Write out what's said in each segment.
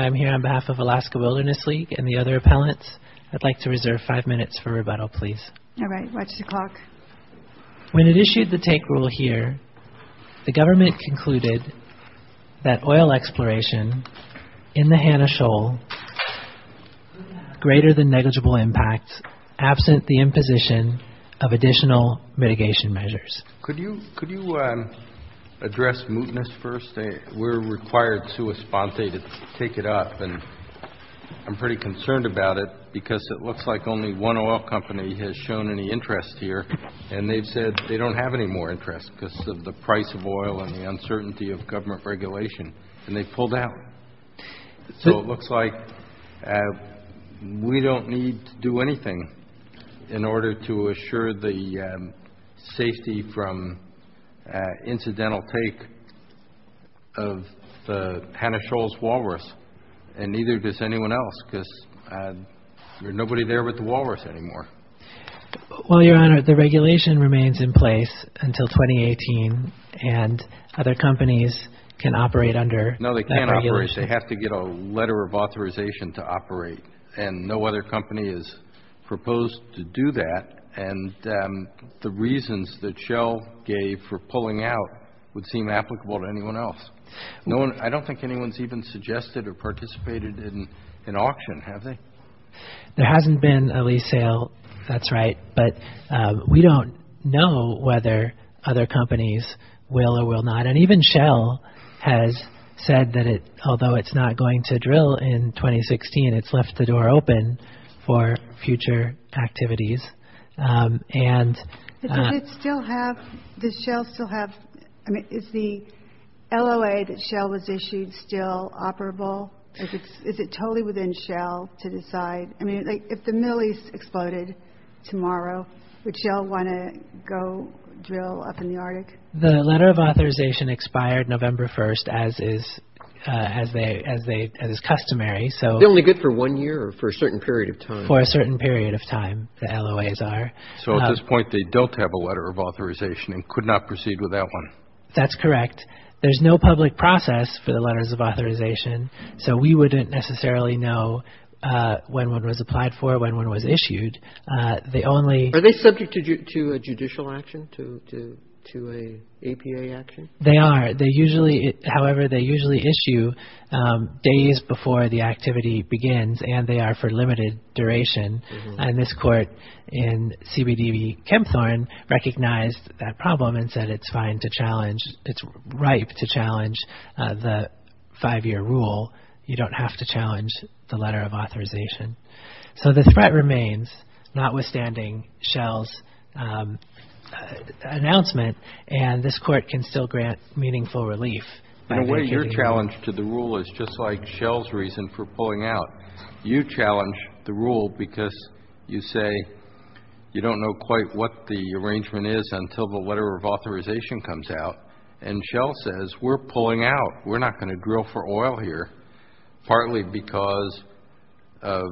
I'm here on behalf of Alaska Wilderness League and the other appellants. I'd like to reserve five minutes for rebuttal, please. When it issued the take rule here, the government concluded that oil exploration in the Hanna-Shoal greater than negligible impact, absent the imposition of additional mitigation measures. Could you address mootness first? We're required to take it up and I'm pretty concerned about it because it looks like only one oil company has shown any interest here and they've said they don't have any more interest because of the price of oil and the uncertainty of government regulation and they've pulled out. So it looks like we don't need to do anything in order to assure the safety from incidental take of the Hanna-Shoal's walrus and neither does anyone else because there's nobody there with the walrus anymore. Well, Your Honor, the regulation remains in place until 2018 and other companies can operate under that regulation. They have to get a letter of authorization to operate and no other company has proposed to do that and the reasons that Shell gave for pulling out would seem applicable to anyone else. I don't think anyone's even suggested or participated in an auction, have they? There hasn't been a lease sale, that's right, but we don't know whether other companies will or will not and even Shell has said that although it's not going to drill in 2016, it's left the door open for future activities. Does Shell still have, I mean, is the LOA that Shell has issued still operable? Is it totally within Shell to decide, I mean, if the mill is exploded tomorrow, would Shell want to go drill up in the Arctic? The letter of authorization expired November 1st as is customary. Is it only good for one year or for a certain period of time? For a certain period of time, the LOAs are. So at this point, they don't have a letter of authorization and could not proceed with that one. That's correct. There's no public process for the letters of authorization, so we wouldn't necessarily know when one was applied for, when one was issued. Are they subject to a judicial action, to an APA action? They are. However, they usually issue days before the activity begins and they are for limited duration and this court in CBDB Chemthorne recognized that problem and said it's fine to challenge, it's right to challenge the five-year rule. You don't have to challenge the letter of authorization. So the threat remains, notwithstanding Shell's announcement, and this court can still grant meaningful relief. In a way, your challenge to the rule is just like Shell's reason for pulling out. You challenge the rule because you say you don't know quite what the arrangement is until the letter of authorization comes out and Shell says we're pulling out. We're not going to drill for oil here, partly because of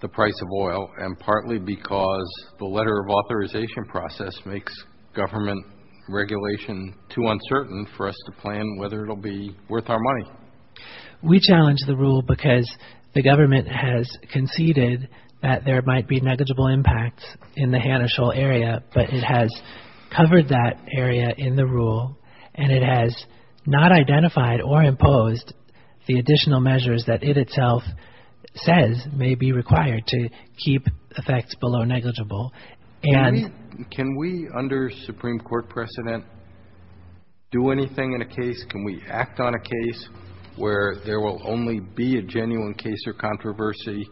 the price of oil and partly because the letter of authorization process makes government regulation too uncertain for us to plan whether it will be worth our money. We challenge the rule because the government has conceded that there might be negligible impact in the Hanna-Scholl area, but it has covered that area in the rule and it has not identified or imposed the additional measures that it itself says may be required to keep effects below negligible. Can we, under Supreme Court precedent, do anything in a case? Can we act on a case where there will only be a genuine case or controversy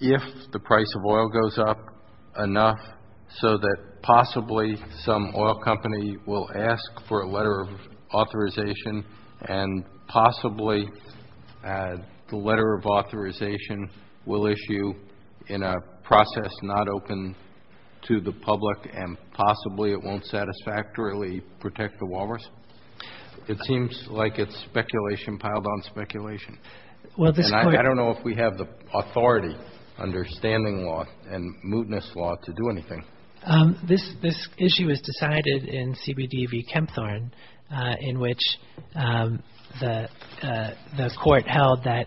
if the price of oil goes up enough so that possibly some oil company will ask for a letter of authorization and possibly the letter of authorization will issue in a process not open to the public and possibly it won't satisfactorily protect the walrus? It seems like it's speculation piled on speculation. I don't know if we have the authority under standing law and mootness law to do anything. This issue is decided in CBD v. Kempthorne in which the court held that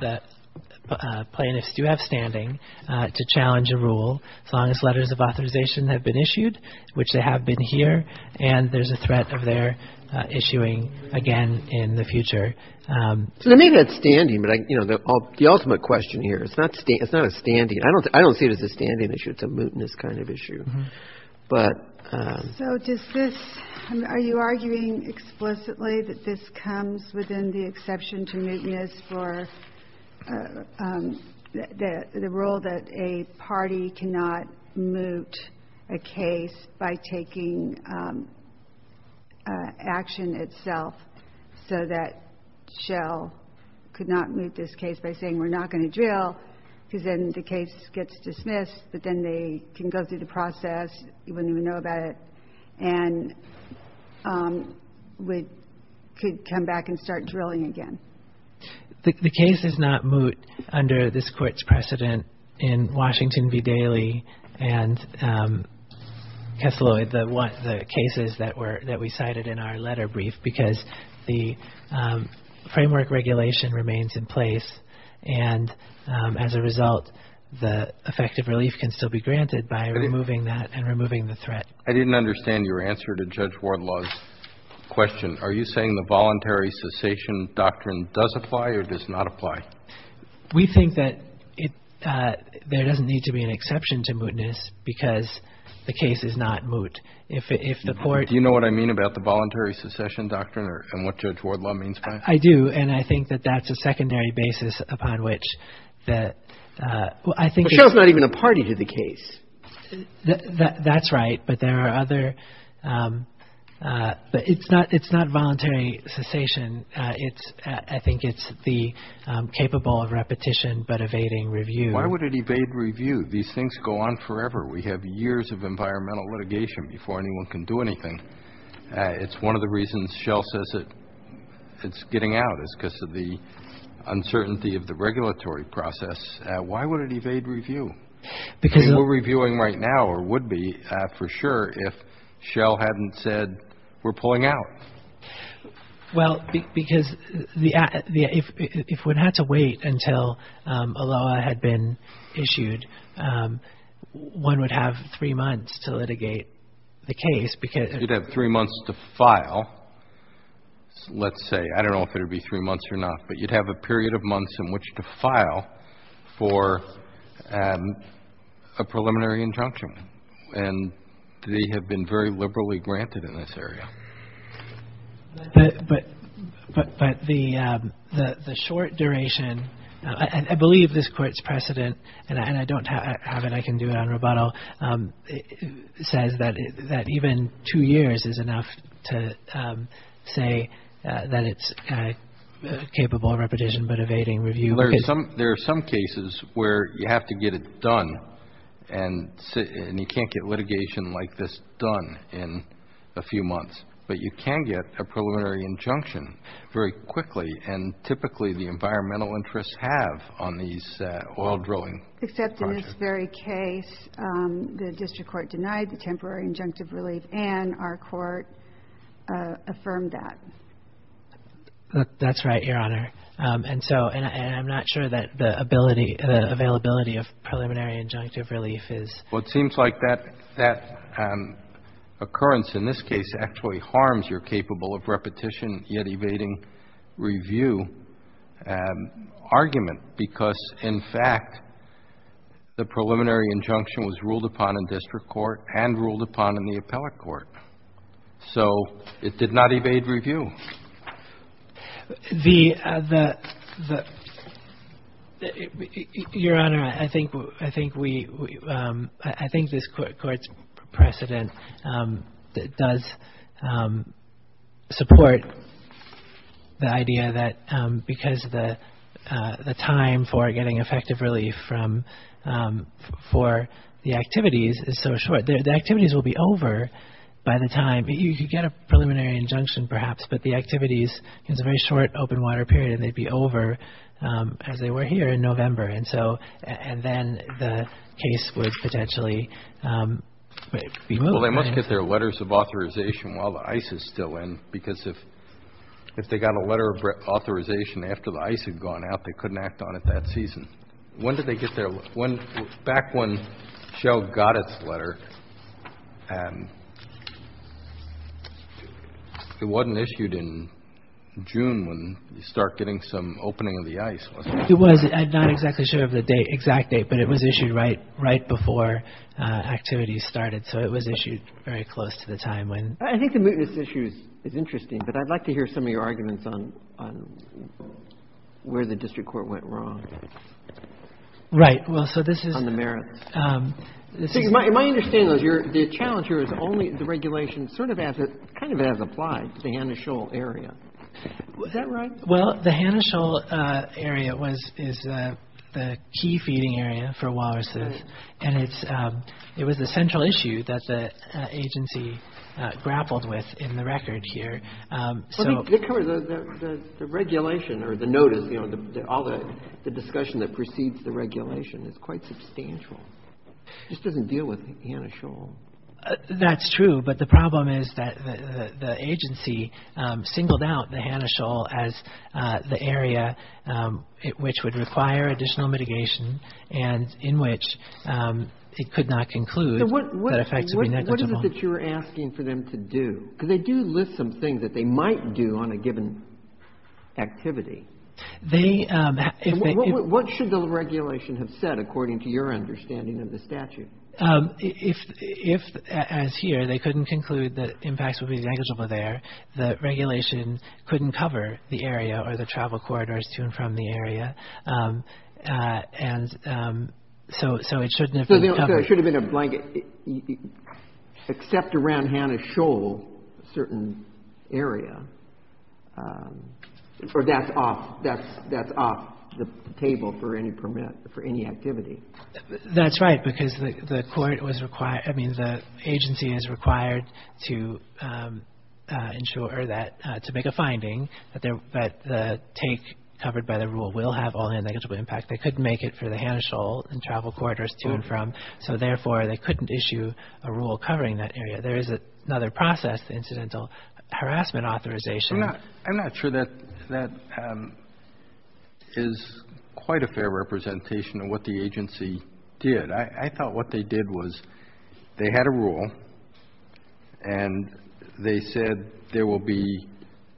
the plaintiffs do have standing to challenge a rule as long as letters of authorization have been issued, which they have been here, and there's a threat of their issuing again in the future. Maybe it's standing, but the ultimate question here, it's not a standing. I don't see it as a standing issue. It's a mootness kind of issue. So are you arguing explicitly that this comes within the exception to mootness or the rule that a party cannot moot a case by taking action itself so that Shell could not moot this case by saying we're not going to drill, because then the case gets dismissed, but then they can go through the process, you wouldn't even know about it, and could come back and start drilling again? The case is not moot under this court's precedent in Washington v. Daly and the cases that we cited in our letter brief because the framework regulation remains in place and as a result the effective relief can still be granted by removing that and removing the threat. I didn't understand your answer to Judge Wardlaw's question. Are you saying the voluntary cessation doctrine does apply or does not apply? We think that there doesn't need to be an exception to mootness because the case is not moot. Do you know what I mean about the voluntary cessation doctrine and what Judge Wardlaw means by it? I do and I think that that's a secondary basis upon which I think... But Shell's not even a party to the case. That's right, but it's not voluntary cessation. I think it's the capable of repetition but evading review. Why would it evade review? These things go on forever. We have years of environmental litigation before anyone can do anything. It's one of the reasons Shell says it's getting out is because of the uncertainty of the regulatory process. Why would it evade review? We're reviewing right now or would be for sure if Shell hadn't said we're pulling out. Well, because if we had to wait until a law had been issued, one would have three months to litigate the case because... You'd have three months to file. Let's say, I don't know if it would be three months or not, but you'd have a period of months in which to file for a preliminary injunction and they have been very liberally granted in this area. But the short duration, I believe this court's precedent, and I don't have it, I can do it on rebuttal, says that even two years is enough to say that it's capable of repetition but evading review. There are some cases where you have to get it done and you can't get litigation like this done in a few months, but you can get a preliminary injunction very quickly and typically the environmental interests have on these oil drilling projects. Except in this very case, the district court denied the temporary injunctive relief and our court affirmed that. That's right, Your Honor. I'm not sure that the availability of preliminary injunctive relief is... Well, it seems like that occurrence in this case actually harms your capable of repetition yet evading review argument because, in fact, the preliminary injunction was ruled upon in district court and ruled upon in the appellate court. So, it did not evade review. The... Your Honor, I think we... I think this court's precedent does support the idea that because the time for getting effective relief for the activities is so short, the activities will be over by the time... You could get a preliminary injunction, perhaps, but the activities have a very short open water period and they'd be over as they were here in November. And then the case would potentially be moved. Well, they must get their letters of authorization while the ice is still in because if they got a letter of authorization after the ice had gone out, they couldn't act on it that season. When did they get their... Well, back when Shell got its letter, it wasn't issued in June when you start getting some opening of the ice. It was. I'm not exactly sure of the exact date, but it was issued right before activities started, so it was issued very close to the time when... I think this issue is interesting, but I'd like to hear some of your arguments on where the district court went wrong. Right, well, so this is... On the merits. My understanding is the challenge here is only the regulations, sort of as applied to the Hanna-Scholl area. Is that right? Well, the Hanna-Scholl area is the key feeding area for walruses and it was a central issue that the agency grappled with in the records here. The regulation or the notice, all the discussion that precedes the regulation is quite substantial. This doesn't deal with Hanna-Scholl. That's true, but the problem is that the agency singled out the Hanna-Scholl as the area which would require additional mitigation and in which it could not conclude that effectively... What is it that you're asking for them to do? Because they do list some things that they might do on a given activity. They... What should the regulation have said according to your understanding of the statute? If, as here, they couldn't conclude that impacts would be negligible there, the regulation couldn't cover the area or the travel corridors to and from the area and so it shouldn't have been covered. So there shouldn't have been a blanket... Except around Hanna-Scholl, a certain area, that's off the table for any activity. That's right because the court was required... I mean, the agency is required to ensure that... to make a finding that the take covered by the rule will have only a negligible impact. They couldn't make it for the Hanna-Scholl and travel corridors to and from, so therefore they couldn't issue a rule covering that area. There is another process, incidental harassment authorization. I'm not sure that that is quite a fair representation of what the agency did. I thought what they did was they had a rule and they said there will be...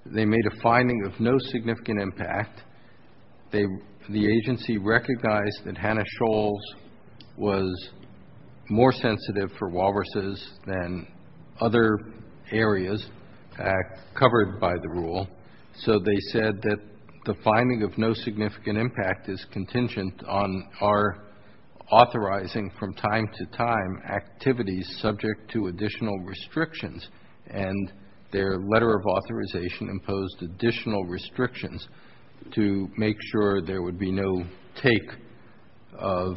They made a finding of no significant impact. The agency recognized that Hanna-Scholl was more sensitive for walruses than other areas covered by the rule, so they said that the finding of no significant impact is contingent on our authorizing from time to time activities subject to additional restrictions and their letter of authorization imposed additional restrictions to make sure there would be no take of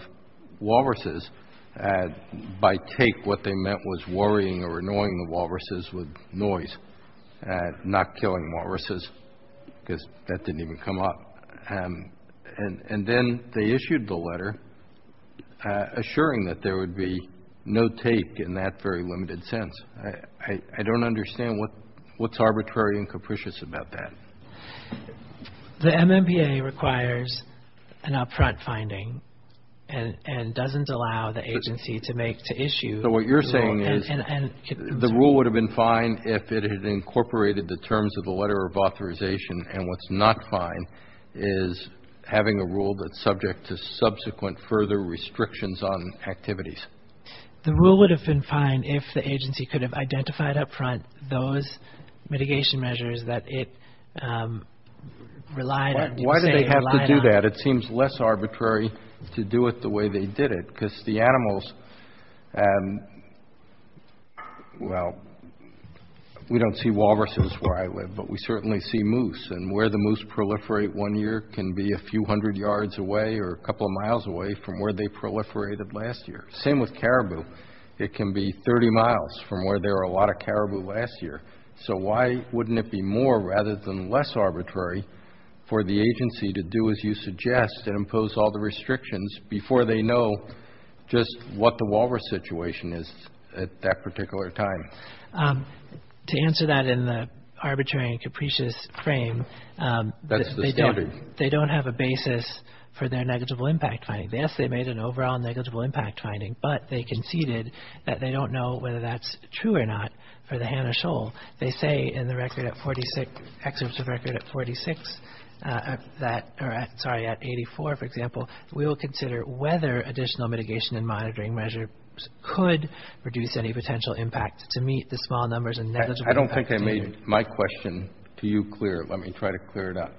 walruses. By take, what they meant was worrying or annoying the walruses with noise, not killing walruses because that didn't even come up. And then they issued the letter assuring that there would be no take in that very limited sense. I don't understand what's arbitrary and capricious about that. The MMBA requires an upfront finding and doesn't allow the agency to issue... So what you're saying is the rule would have been fine if it had incorporated the terms of the letter of authorization, and what's not fine is having a rule that's subject to subsequent further restrictions on activities. The rule would have been fine if the agency could have identified up front those mitigation measures that it relied on. Why did they have to do that? It seems less arbitrary to do it the way they did it because the animals... Well, we don't see walruses where I live, but we certainly see moose, and where the moose proliferate one year can be a few hundred yards away or a couple of miles away from where they proliferated last year. Same with caribou. It can be 30 miles from where there were a lot of caribou last year. So why wouldn't it be more rather than less arbitrary for the agency to do as you suggest and impose all the restrictions before they know just what the walrus situation is at that particular time? To answer that in the arbitrary and capricious frame, they don't have a basis for their negligible impact finding. Yes, they made an overall negligible impact finding, but they conceded that they don't know whether that's true or not for the Hannah Shoal. They say in the records at 46, excuse me, records at 46, sorry, at 84, for example, we will consider whether additional mitigation and monitoring measures could reduce any potential impact to meet the small numbers and negligible impact. I don't think I made my question to you clear. Let me try to clear it up.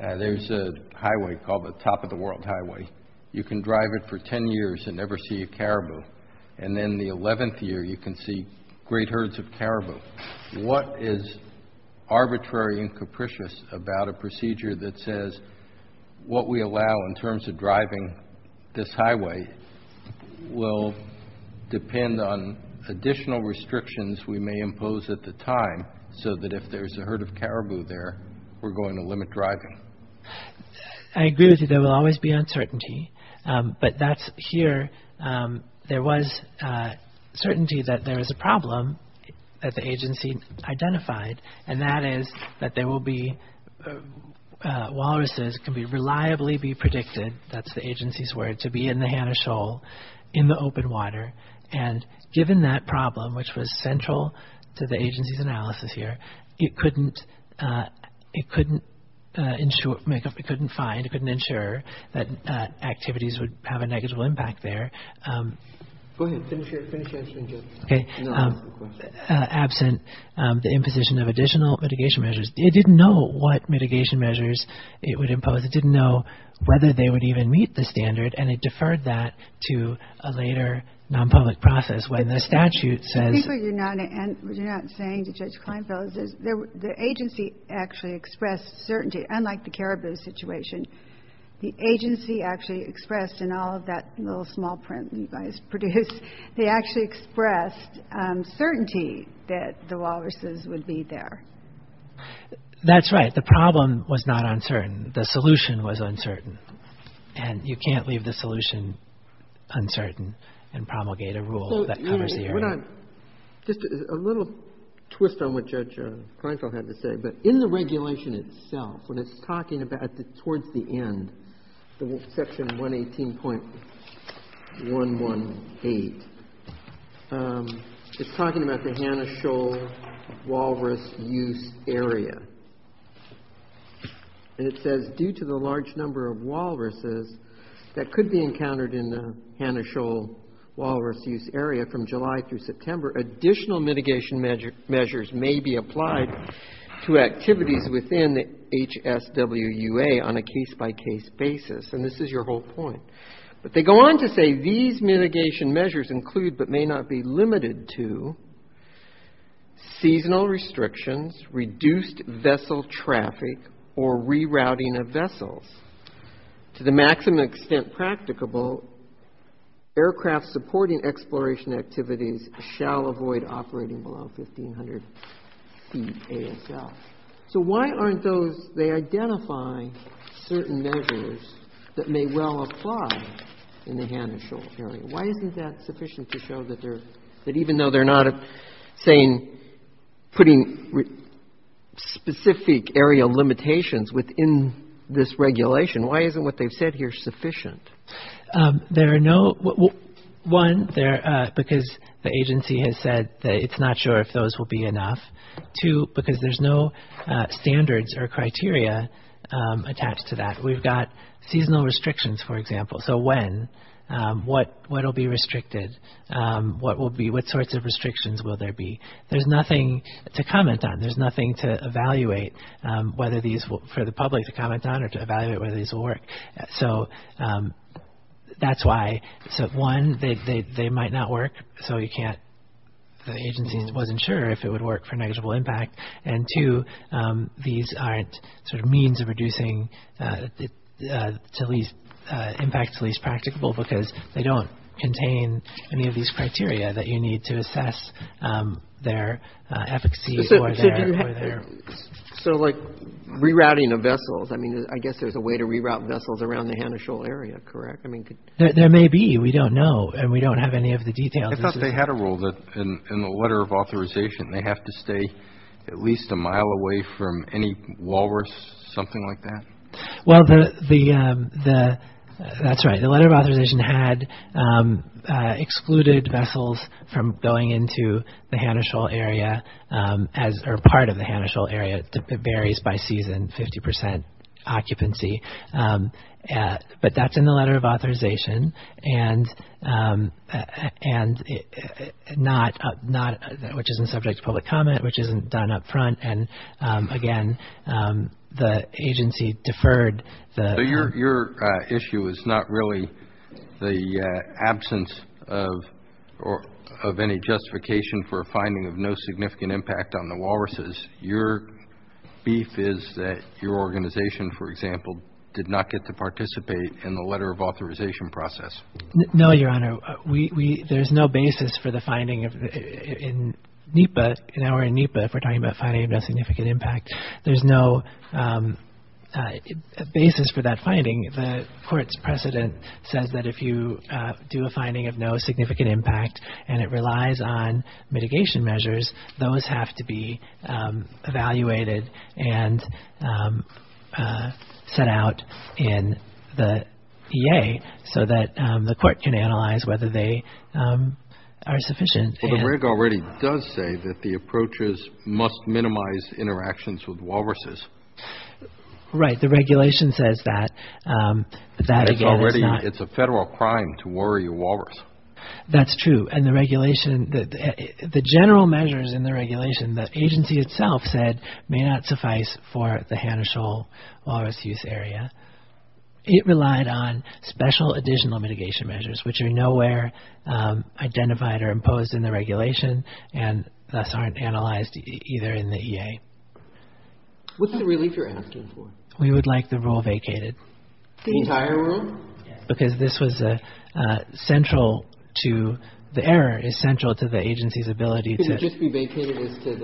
There's a highway called the Top of the World Highway. You can drive it for 10 years and never see a caribou, and then the 11th year you can see great herds of caribou. What is arbitrary and capricious about a procedure that says what we allow in terms of driving this highway will depend on additional restrictions we may impose at the time so that if there's a herd of caribou there, we're going to limit driving? I agree with you. There will always be uncertainty, but that's here. There was certainty that there was a problem that the agency identified, and that is that there will be, walruses can reliably be predicted, that's the agency's word, to be in the Hannah Shoal in the open water. Given that problem, which was central to the agency's analysis here, it couldn't find, it couldn't ensure that activities would have a negligible impact there. Absent the imposition of additional mitigation measures, it didn't know what mitigation measures it would impose. It didn't know whether they would even meet the standard, and it deferred that to a later non-public process when the statute says... People, you're not saying to Judge Kleinfeld, the agency actually expressed certainty, unlike the caribou situation. The agency actually expressed in all of that little small print that was produced, they actually expressed certainty that the walruses would be there. That's right. The problem was not uncertain. The solution was uncertain, and you can't leave the solution uncertain and promulgate a rule that covers the area. Just a little twist on what Judge Kleinfeld had to say, but in the regulation itself, when it's talking about, towards the end, section 118.118, it's talking about the Hannah Shoal walrus use area, and it says, due to the large number of walruses that could be encountered in the Hannah Shoal walrus use area from July through September, additional mitigation measures may be applied to activities within the HSWUA on a case-by-case basis, and this is your whole point. But they go on to say, these mitigation measures include, but may not be limited to, seasonal restrictions, reduced vessel traffic, or rerouting of vessels. To the maximum extent practicable, aircraft supporting exploration activities shall avoid operating below 1,500 feet ASL. So why aren't they identifying certain measures that may well apply in the Hannah Shoal area? Why isn't that sufficient to show that even though they're not saying, putting specific area limitations within this regulation, why isn't what they've said here sufficient? One, because the agency has said it's not sure if those will be enough. Two, because there's no standards or criteria attached to that. We've got seasonal restrictions, for example. So when, what will be restricted? What sorts of restrictions will there be? There's nothing to comment on. There's nothing to evaluate for the public to comment on or to evaluate whether these will work. So that's why, one, they might not work, so the agency wasn't sure if it would work for negligible impact. And two, these aren't sort of means of reducing impact to least practicable because they don't contain any of these criteria that you need to assess their efficacy or their... So like rerouting of vessels, I mean, I guess there's a way to reroute vessels around the Hannah Shoal area, correct? There may be. We don't know and we don't have any of the details. I thought they had a rule that in the letter of authorization they have to stay at least a mile away from any walrus, something like that? Well, that's right. The letter of authorization had excluded vessels from going into the Hannah Shoal area or part of the Hannah Shoal area. It varies by season, 50% occupancy. But that's in the letter of authorization and not, which isn't subject to public comment, which isn't done up front. And, again, the agency deferred the... So your issue is not really the absence of any justification for a finding of no significant impact on the walruses. Your beef is that your organization, for example, did not get to participate in the letter of authorization process. No, Your Honor. There's no basis for the finding in NEPA, if we're talking about finding no significant impact. There's no basis for that finding. The court's precedent said that if you do a finding of no significant impact and it relies on mitigation measures, those have to be evaluated and set out in the EA so that the court can analyze whether they are sufficient. Well, the reg already does say that the approaches must minimize interactions with walruses. Right. The regulation says that. It's a federal crime to worry a walrus. That's true. The general measures in the regulation, the agency itself said, may not suffice for the Hanna-Scholl walrus use area. It relied on special additional mitigation measures, which are nowhere identified or imposed in the regulation and thus aren't analyzed either in the EA. What's the relief you're asking for? We would like the rule vacated. The entire rule? Because the error is central to the agency's ability to Could it just be vacated to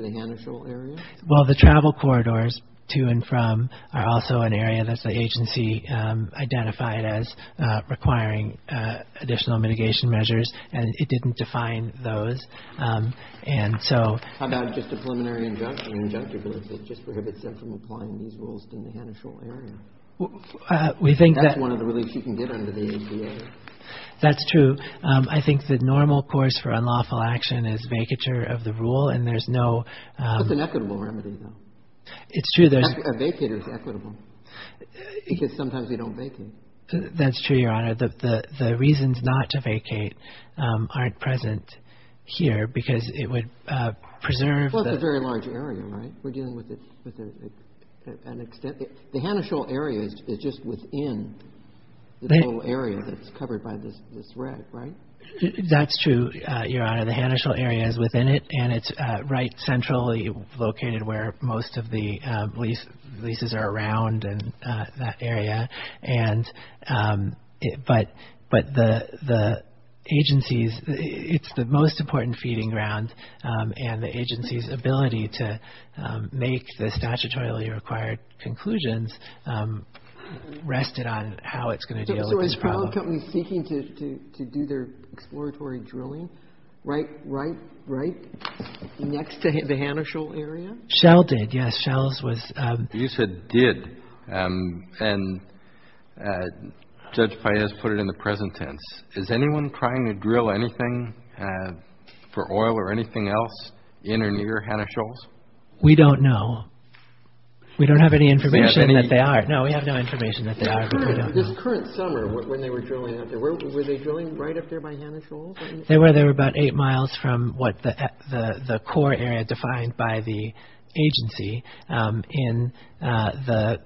the Hanna-Scholl area? Well, the travel corridors to and from are also an area that the agency identified as requiring additional mitigation measures, and it didn't define those. How about just a preliminary injunction, an injunction that just prohibits them from applying these rules to the Hanna-Scholl area? That's one of the reliefs you can get under the EA. That's true. I think the normal course for unlawful action is vacature of the rule, and there's no It's an equitable remedy, though. It's true. A vacate is equitable because sometimes we don't vacate. That's true, Your Honor. The reasons not to vacate aren't present here because it would preserve Well, it's a very large area, right? We're dealing with an extent The Hanna-Scholl area is just within the whole area that's covered by this red, right? That's true, Your Honor. The Hanna-Scholl area is within it, and it's right centrally located where most of the leases are around in that area, but the agency's It's the most important feeding ground, and the agency's ability to make the statutorily required conclusions rested on how it's going to deal with the problem. So is the company seeking to do their exploratory drilling right next to the Hanna-Scholl area? Shell did, yes. Shell's was You said did, and Judge Faiz put it in the present tense. Is anyone trying to drill anything for oil or anything else in or near Hanna-Scholl? We don't know. We don't have any information that they are. No, we have no information that they are, but we don't know. This current summer when they were drilling out there, were they drilling right up there by Hanna-Scholl? They were. They were about eight miles from what the core area defined by the agency in the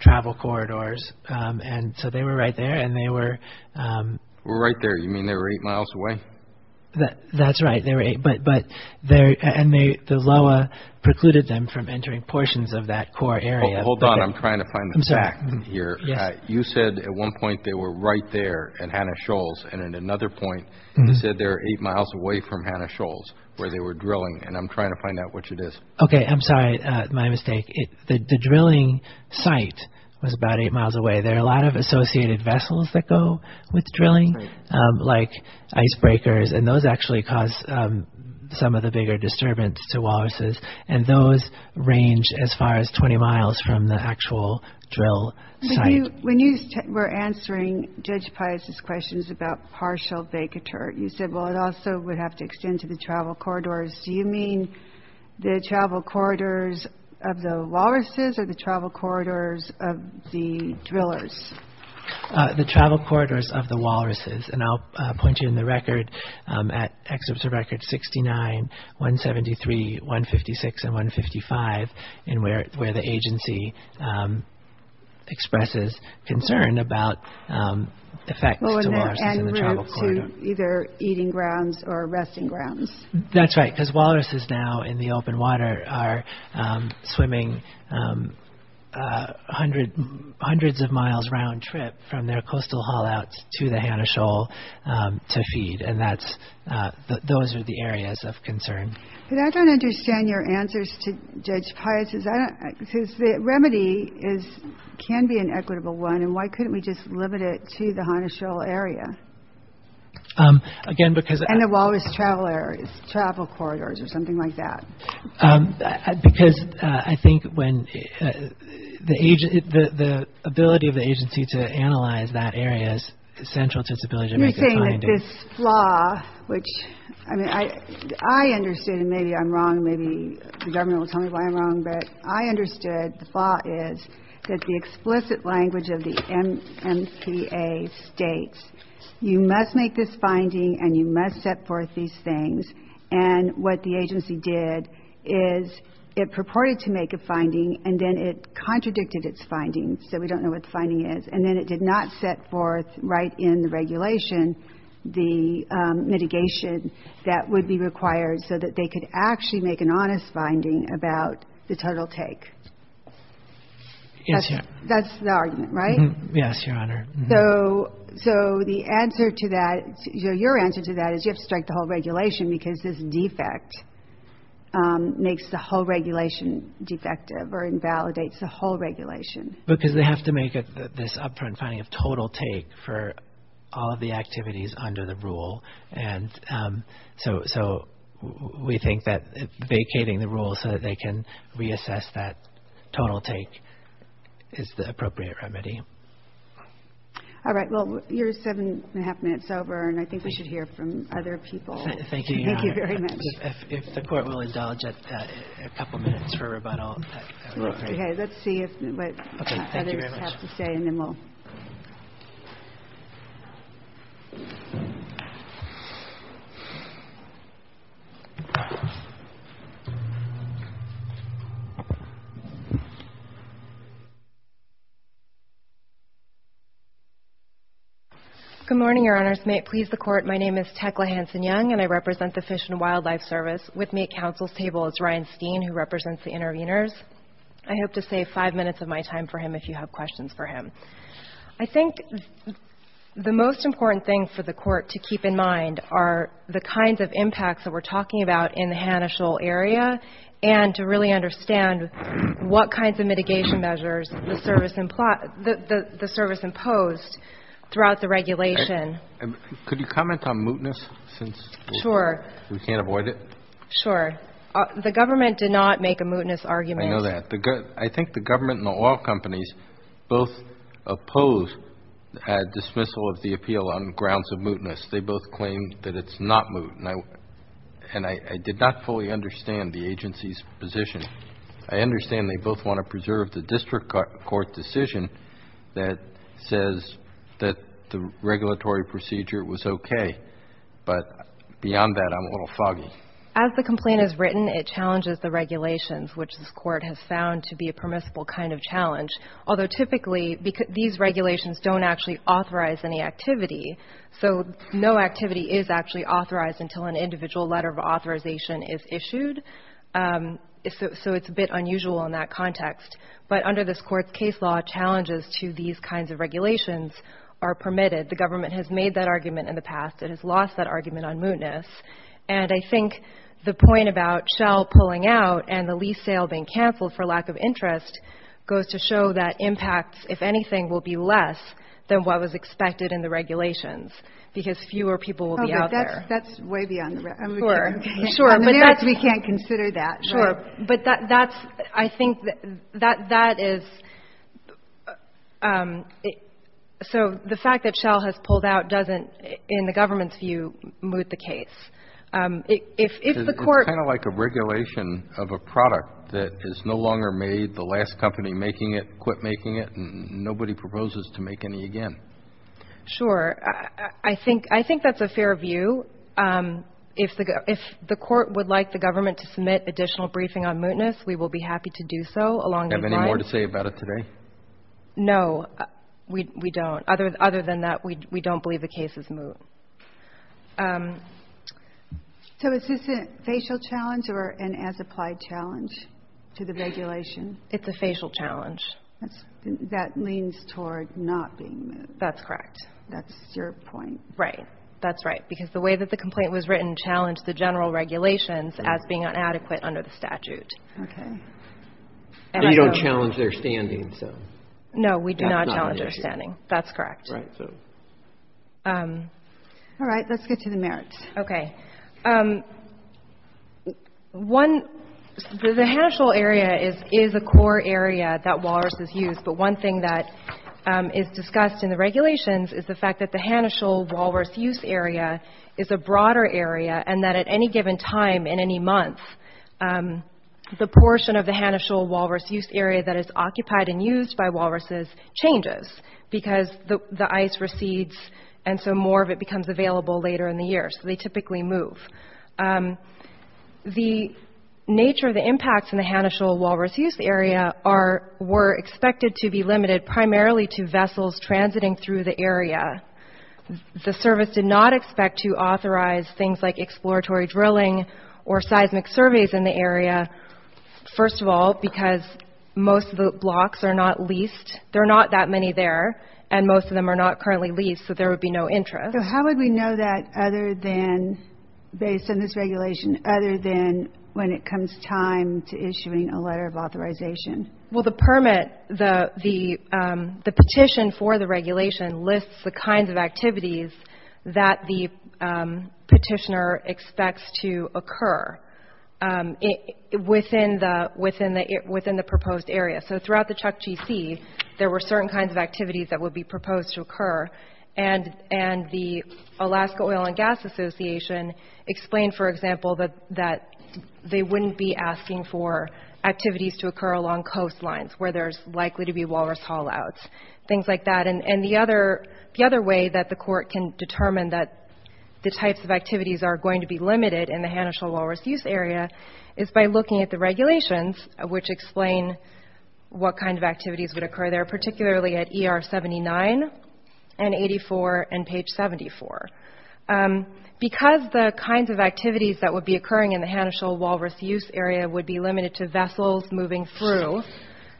travel corridors, and so they were right there, and they were Were right there. You mean they were eight miles away? That's right. They were eight, and the LOA precluded them from entering portions of that core area. Hold on. I'm trying to find the fact here. You said at one point they were right there at Hanna-Scholl, and at another point you said they were eight miles away from Hanna-Scholl where they were drilling, and I'm trying to find out which it is. Okay. I'm sorry. My mistake. The drilling site was about eight miles away. There are a lot of associated vessels that go with drilling, like icebreakers, and those actually cause some of the bigger disturbance to walruses, and those range as far as 20 miles from the actual drill site. When you were answering Judge Pius's questions about partial vacatur, you said, well, it also would have to extend to the travel corridors. Do you mean the travel corridors of the walruses or the travel corridors of the drillers? The travel corridors of the walruses, and I'll point you in the records at Excerpts of Records 69, 173, 156, and 155, and where the agency expresses concern about effects to walruses in the travel corridor. And routes to either eating grounds or resting grounds. That's right, because walruses now in the open water are swimming hundreds of miles round trip from their coastal haul-outs to the Hanna-Scholl to feed, and those are the areas of concern. But I don't understand your answers to Judge Pius's. The remedy can be an equitable one, and why couldn't we just limit it to the Hanna-Scholl area? Again, because- And the walrus travel areas, travel corridors, or something like that. Because I think when the ability of the agency to analyze that area is essential to disability- You're saying that this flaw, which, I mean, I understood, and maybe I'm wrong, but I understood the flaw is that the explicit language of the MTA states, you must make this finding, and you must set forth these things. And what the agency did is it purported to make a finding, and then it contradicted its findings, so we don't know what the finding is. And then it did not set forth right in the regulation the mitigation that would be required so that they could actually make an honest finding about the total take. That's the argument, right? Yes, Your Honor. So the answer to that, your answer to that is you have to strike the whole regulation because this defect makes the whole regulation defective or invalidates the whole regulation. Because they have to make this upfront finding of total take for all of the activities under the rule. And so we think that vacating the rule so that they can reassess that total take is the appropriate remedy. All right, well, you're seven and a half minutes over, and I think we should hear from other people. Thank you, Your Honor. Thank you very much. If the Court will indulge us a couple minutes for rebuttal. Okay, let's see what others have to say, and then we'll- Okay, thank you very much. Thank you. Good morning, Your Honors. May it please the Court, my name is Tecla Hanson-Young, and I represent the Fish and Wildlife Service. With me at counsel's table is Ryan Steen, who represents the interveners. I hope to save five minutes of my time for him if you have questions for him. I think the most important thing for the Court to keep in mind are the kinds of impacts that we're talking about in the Hanischel area, and to really understand what kinds of mitigation measures the service imposed throughout the regulation. Could you comment on mootness? Sure. We can't avoid it? Sure. The government did not make a mootness argument. I know that. I think the government and the oil companies both oppose dismissal of the appeal on grounds of mootness. They both claim that it's not moot, and I did not fully understand the agency's position. I understand they both want to preserve the district court decision that says that the regulatory procedure was okay, but beyond that, I'm a little foggy. As the complaint is written, it challenges the regulations, which the Court has found to be a permissible kind of challenge, although typically these regulations don't actually authorize any activity. So no activity is actually authorized until an individual letter of authorization is issued, so it's a bit unusual in that context. But under this Court's case law, challenges to these kinds of regulations are permitted. The government has made that argument in the past. It has lost that argument on mootness. And I think the point about Shell pulling out and the lease sale being canceled for lack of interest goes to show that impacts, if anything, will be less than what was expected in the regulations, because fewer people will be out there. Okay. That's way beyond the realm. I'm not sure. Sure. I mean, we can't consider that. Sure. I think that is – so the fact that Shell has pulled out doesn't, in the government's view, moot the case. It's kind of like a regulation of a product that is no longer made, the last company making it quit making it, and nobody proposes to make any again. Sure. I think that's a fair view. If the Court would like the government to submit additional briefing on mootness, we will be happy to do so. Do you have any more to say about it today? No, we don't. Other than that, we don't believe the case is moot. So is this a facial challenge or an as-applied challenge to the regulation? It's a facial challenge. That leans toward not being moot. That's correct. That's your point. Right. That's right. Because the way that the complaint was written challenged the general regulations as being inadequate under the statute. Okay. And you don't challenge their standings, though. No, we do not challenge their standings. That's correct. All right. Let's get to the merits. Okay. One, the Hanischel area is a core area that Walrus is used, but one thing that is discussed in the regulations is the fact that the Hanischel Walrus use area is a broader area and that at any given time in any month, the portion of the Hanischel Walrus use area that is occupied and used by Walruses changes because the ice recedes and so more of it becomes available later in the year. So they typically move. The nature of the impacts in the Hanischel Walrus use area were expected to be limited primarily to vessels transiting through the area. The service did not expect to authorize things like exploratory drilling or seismic surveys in the area, first of all, because most of the blocks are not leased. There are not that many there, and most of them are not currently leased, so there would be no interest. So how would we know that other than, based on this regulation, other than when it comes time to issuing a letter of authorization? Well, the permit, the petition for the regulation, lists the kinds of activities that the petitioner expects to occur within the proposed area. So throughout the Chukchi Sea, there were certain kinds of activities that would be proposed to occur, and the Alaska Oil and Gas Association explained, for example, that they wouldn't be asking for activities to occur along coastlines, where there's likely to be Walrus haul-outs, things like that. And the other way that the court can determine that the types of activities are going to be limited in the Hanischel Walrus use area is by looking at the regulations, which explain what kind of activities would occur there, particularly at ER 79 and 84 and page 74. Because the kinds of activities that would be occurring in the Hanischel Walrus use area would be limited to vessels moving through,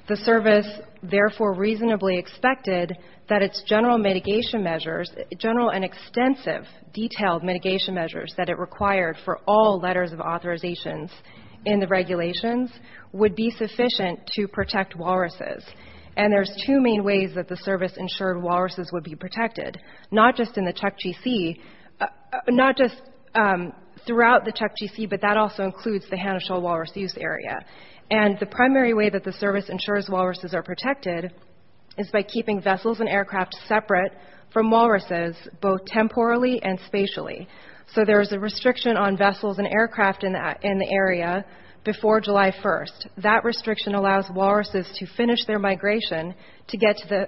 the service therefore reasonably expected that its general mitigation measures, general and extensive detailed mitigation measures that it required for all letters of authorizations in the regulations, would be sufficient to protect walruses. And there's two main ways that the service ensured walruses would be protected, not just in the Chukchi Sea, not just throughout the Chukchi Sea, but that also includes the Hanischel Walrus use area. And the primary way that the service ensures walruses are protected is by keeping vessels and aircraft separate from walruses, both temporally and spatially. So there's a restriction on vessels and aircraft in the area before July 1st. And that restriction allows walruses to finish their migration to get to the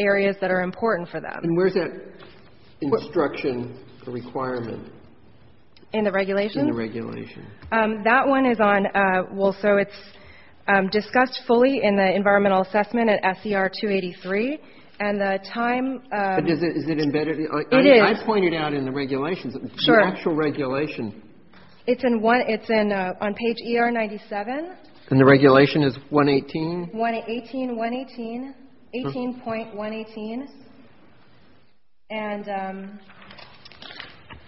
areas that are important for them. And where's that instruction requirement? In the regulations? In the regulations. That one is on, well, so it's discussed fully in the environmental assessment at SCR 283. And the time... Is it embedded? It is. I pointed out in the regulations. Sure. The actual regulations. It's on page ER 97. And the regulation is 118? 118, 118, 18.118. And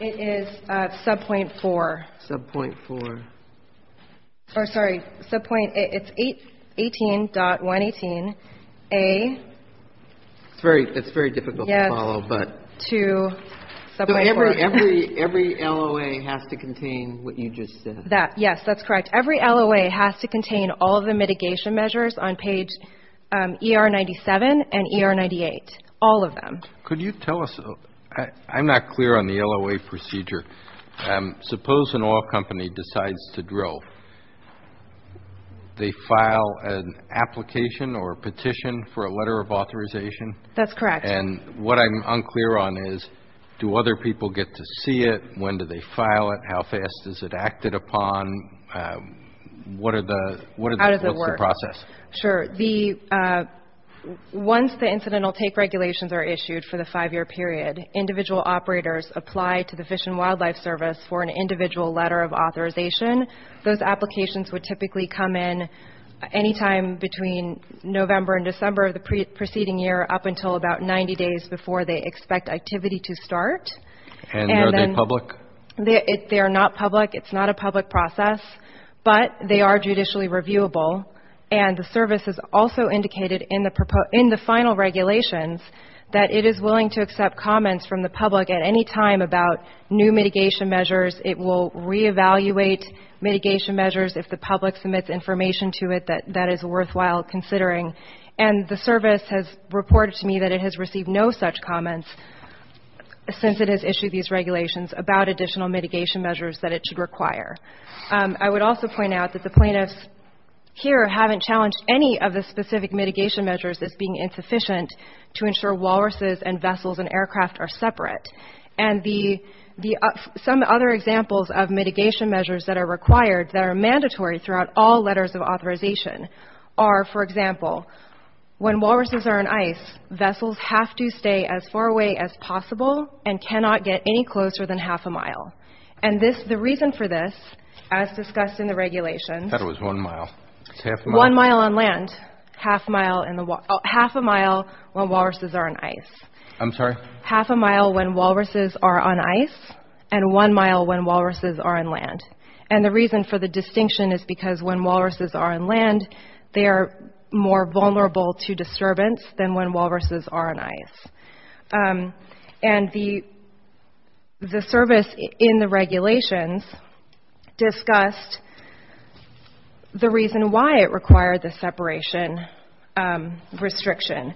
it is sub-point four. Sub-point four. Sorry, sub-point, it's 18.118A. It's very difficult to follow, but... Yes, that's correct. Every LOA has to contain all of the mitigation measures on page ER 97 and ER 98. All of them. Could you tell us, I'm not clear on the LOA procedure. Suppose an oil company decides to drill. They file an application or a petition for a letter of authorization? That's correct. And what I'm unclear on is, do other people get to see it? When do they file it? How fast is it acted upon? What are the... How does it work? What's the process? Sure. Once the incidental tape regulations are issued for the five-year period, individual operators apply to the Fish and Wildlife Service for an individual letter of authorization. Those applications would typically come in any time between November and December of the preceding year, up until about 90 days before they expect activity to start. And are they public? They are not public. It's not a public process. But they are judicially reviewable, and the service has also indicated in the final regulations that it is willing to accept comments from the public at any time about new mitigation measures. It will reevaluate mitigation measures if the public submits information to it that is worthwhile considering. And the service has reported to me that it has received no such comments since it has issued these regulations about additional mitigation measures that it should require. I would also point out that the plaintiffs here haven't challenged any of the specific mitigation measures as being insufficient to ensure walruses and vessels and aircraft are separate. And some other examples of mitigation measures that are required, that are mandatory throughout all letters of authorization are, for example, when walruses are on ice, vessels have to stay as far away as possible and cannot get any closer than half a mile. And the reason for this, as discussed in the regulations, I thought it was one mile. One mile on land, half a mile when walruses are on ice. I'm sorry? Half a mile when walruses are on ice and one mile when walruses are on land. And the reason for the distinction is because when walruses are on land, they are more vulnerable to disturbance than when walruses are on ice. And the service in the regulations discussed the reason why it required the separation restriction.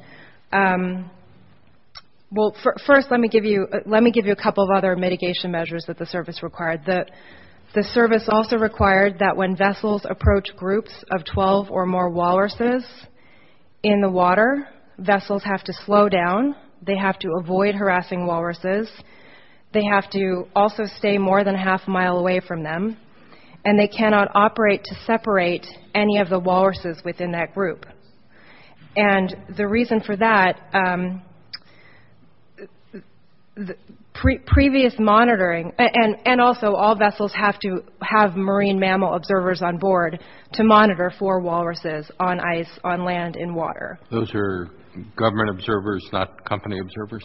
Well, first let me give you a couple of other mitigation measures that the service required. The service also required that when vessels approach groups of 12 or more walruses in the water, vessels have to slow down. They have to avoid harassing walruses. They have to also stay more than half a mile away from them. And they cannot operate to separate any of the walruses within that group. And the reason for that, previous monitoring, and also all vessels have to have marine mammal observers on board to monitor for walruses on ice, on land, in water. Those are government observers, not company observers?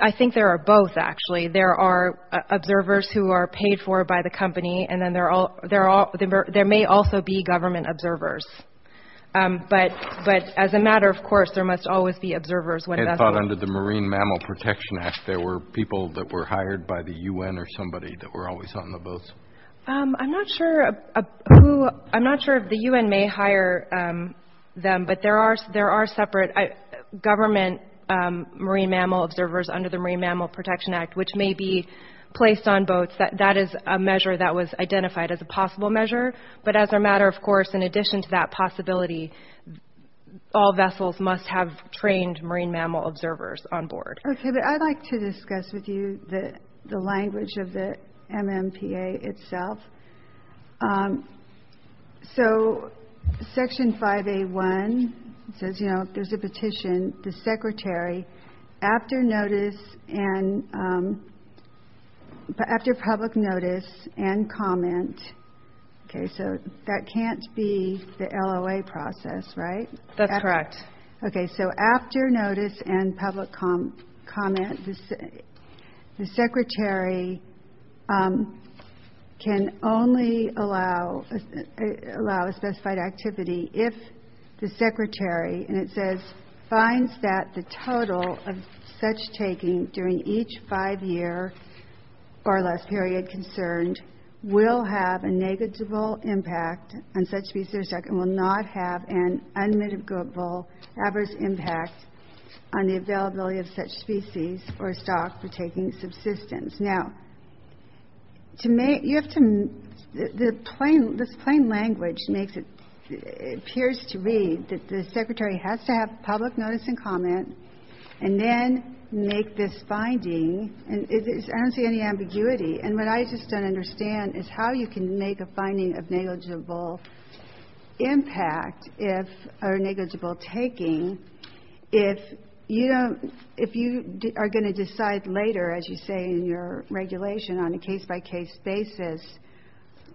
I think there are both, actually. There are observers who are paid for by the company, and there may also be government observers. But as a matter of course, there must always be observers. I thought under the Marine Mammal Protection Act, there were people that were hired by the U.N. or somebody that were always on the boats. I'm not sure if the U.N. may hire them, but there are separate government marine mammal observers under the Marine Mammal Protection Act, which may be placed on boats. That is a measure that was identified as a possible measure. But as a matter of course, in addition to that possibility, all vessels must have trained marine mammal observers on board. I'd like to discuss with you the language of the MMPA itself. So Section 5A1 says, you know, there's a petition. Okay, so that can't be the LOA process, right? That's correct. Okay, so after notice and public comment, the secretary can only allow a specified activity if the secretary, and it says, finds that the total of such taking during each five-year or less period concerned will have a negligible impact on such species and will not have an unmitigable adverse impact on the availability of such species or stock for taking subsistence. Now, this plain language makes it appears to me that the secretary has to have public notice and comment and then make this finding. I don't see any ambiguity. And what I just don't understand is how you can make a finding of negligible impact or negligible taking if you are going to decide later, as you say in your regulation, on a case-by-case basis,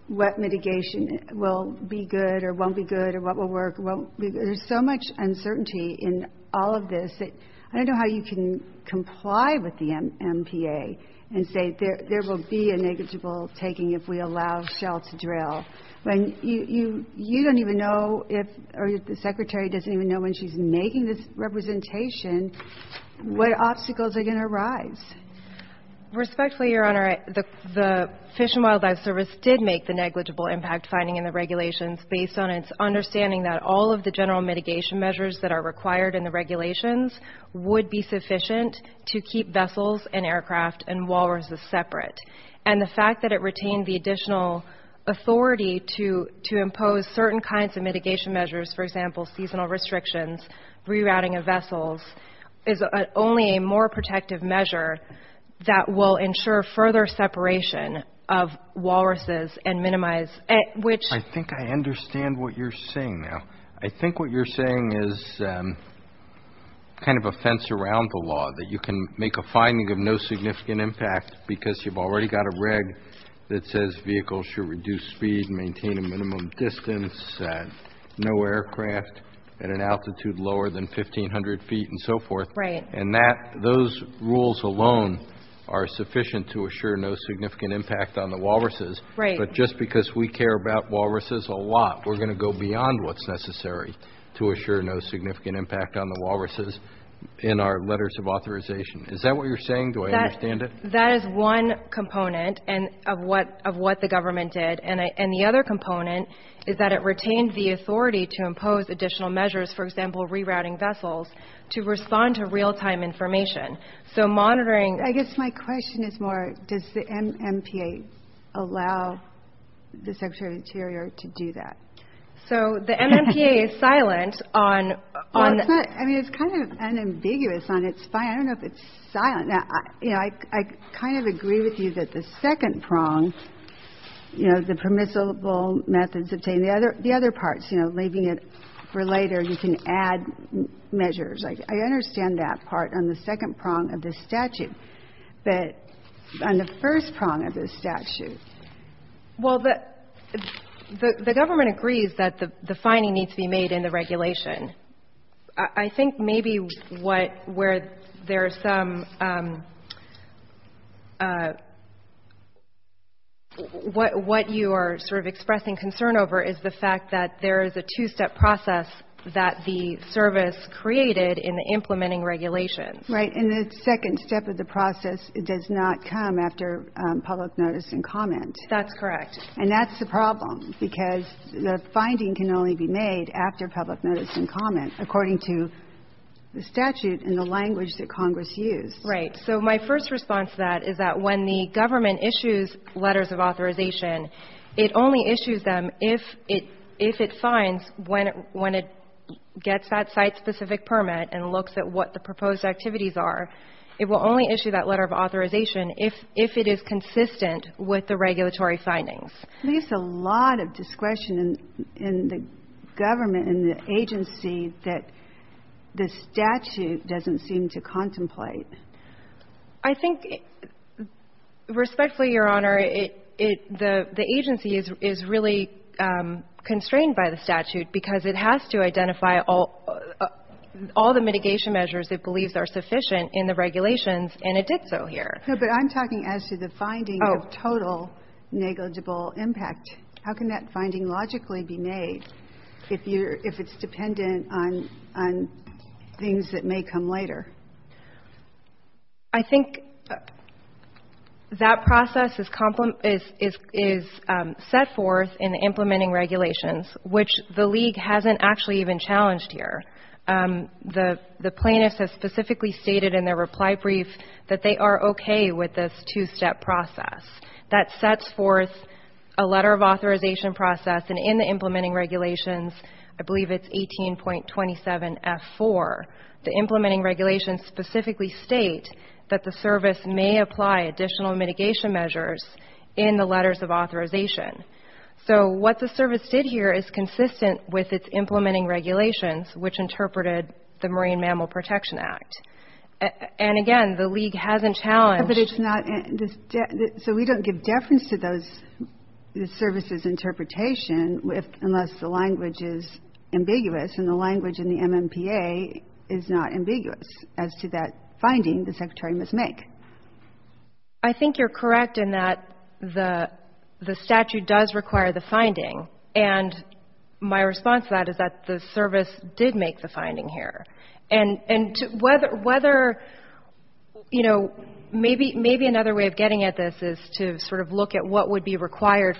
what mitigation will be good or won't be good or what will work. There's so much uncertainty in all of this. I don't know how you can comply with the MPA and say there will be a negligible taking if we allow shell to drill. You don't even know, or the secretary doesn't even know when she's making this representation what obstacles are going to arise. Respectfully, Your Honor, the Fish and Wildlife Service did make the negligible impact finding in the regulations based on its understanding that all of the general mitigation measures that are required in the regulations would be sufficient to keep vessels and aircraft and walruses separate. And the fact that it retained the additional authority to impose certain kinds of mitigation measures, for example, seasonal restrictions, rerouting of vessels, is only a more protective measure that will ensure further separation of walruses and minimize which- I think I understand what you're saying now. I think what you're saying is kind of a fence around the law, that you can make a finding of no significant impact because you've already got a reg that says vehicles should reduce speed, maintain a minimum distance, no aircraft at an altitude lower than 1,500 feet and so forth. And those rules alone are sufficient to assure no significant impact on the walruses. But just because we care about walruses a lot, we're going to go beyond what's necessary to assure no significant impact on the walruses in our letters of authorization. Is that what you're saying? Do I understand it? That is one component of what the government did. And the other component is that it retains the authority to impose additional measures, for example, rerouting vessels, to respond to real-time information. So monitoring- I guess my question is more does the MMPA allow the Secretary of the Interior to do that? So the MMPA is silent on- I mean, it's kind of unambiguous on its side. I don't know if it's silent. I kind of agree with you that the second prong, you know, the permissible methods, the other parts, you know, leaving it for later, you can add measures. I understand that part on the second prong of the statute. But on the first prong of the statute- Well, the government agrees that the finding needs to be made in the regulation. I think maybe where there's some- what you are sort of expressing concern over is the fact that there is a two-step process that the service created in implementing regulations. Right, and the second step of the process does not come after public notice and comment. That's correct. And that's the problem because the finding can only be made after public notice and comment, according to the statute and the language that Congress used. Right. So my first response to that is that when the government issues letters of authorization, it only issues them if it signs when it gets that site-specific permit and looks at what the proposed activities are. It will only issue that letter of authorization if it is consistent with the regulatory findings. There's a lot of discretion in the government and the agency that the statute doesn't seem to contemplate. I think, respectfully, Your Honor, the agency is really constrained by the statute because it has to identify all the mitigation measures it believes are sufficient in the regulations, and it did so here. No, but I'm talking as to the finding of total negligible impact. How can that finding logically be made if it's dependent on things that may come later? I think that process is set forth in the implementing regulations, which the League hasn't actually even challenged here. The plaintiffs have specifically stated in their reply brief that they are okay with this two-step process. That sets forth a letter of authorization process, and in the implementing regulations, I believe it's 18.27F4. The implementing regulations specifically state that the service may apply additional mitigation measures in the letters of authorization. So what the service did here is consistent with its implementing regulations, which interpreted the Marine Mammal Protection Act. And, again, the League hasn't challenged. So we don't give deference to the service's interpretation unless the language is ambiguous, and the language in the MMPA is not ambiguous as to that finding the Secretary must make. I think you're correct in that the statute does require the finding, and my response to that is that the service did make the finding here. And whether, you know, maybe another way of getting at this is to sort of look at what would be required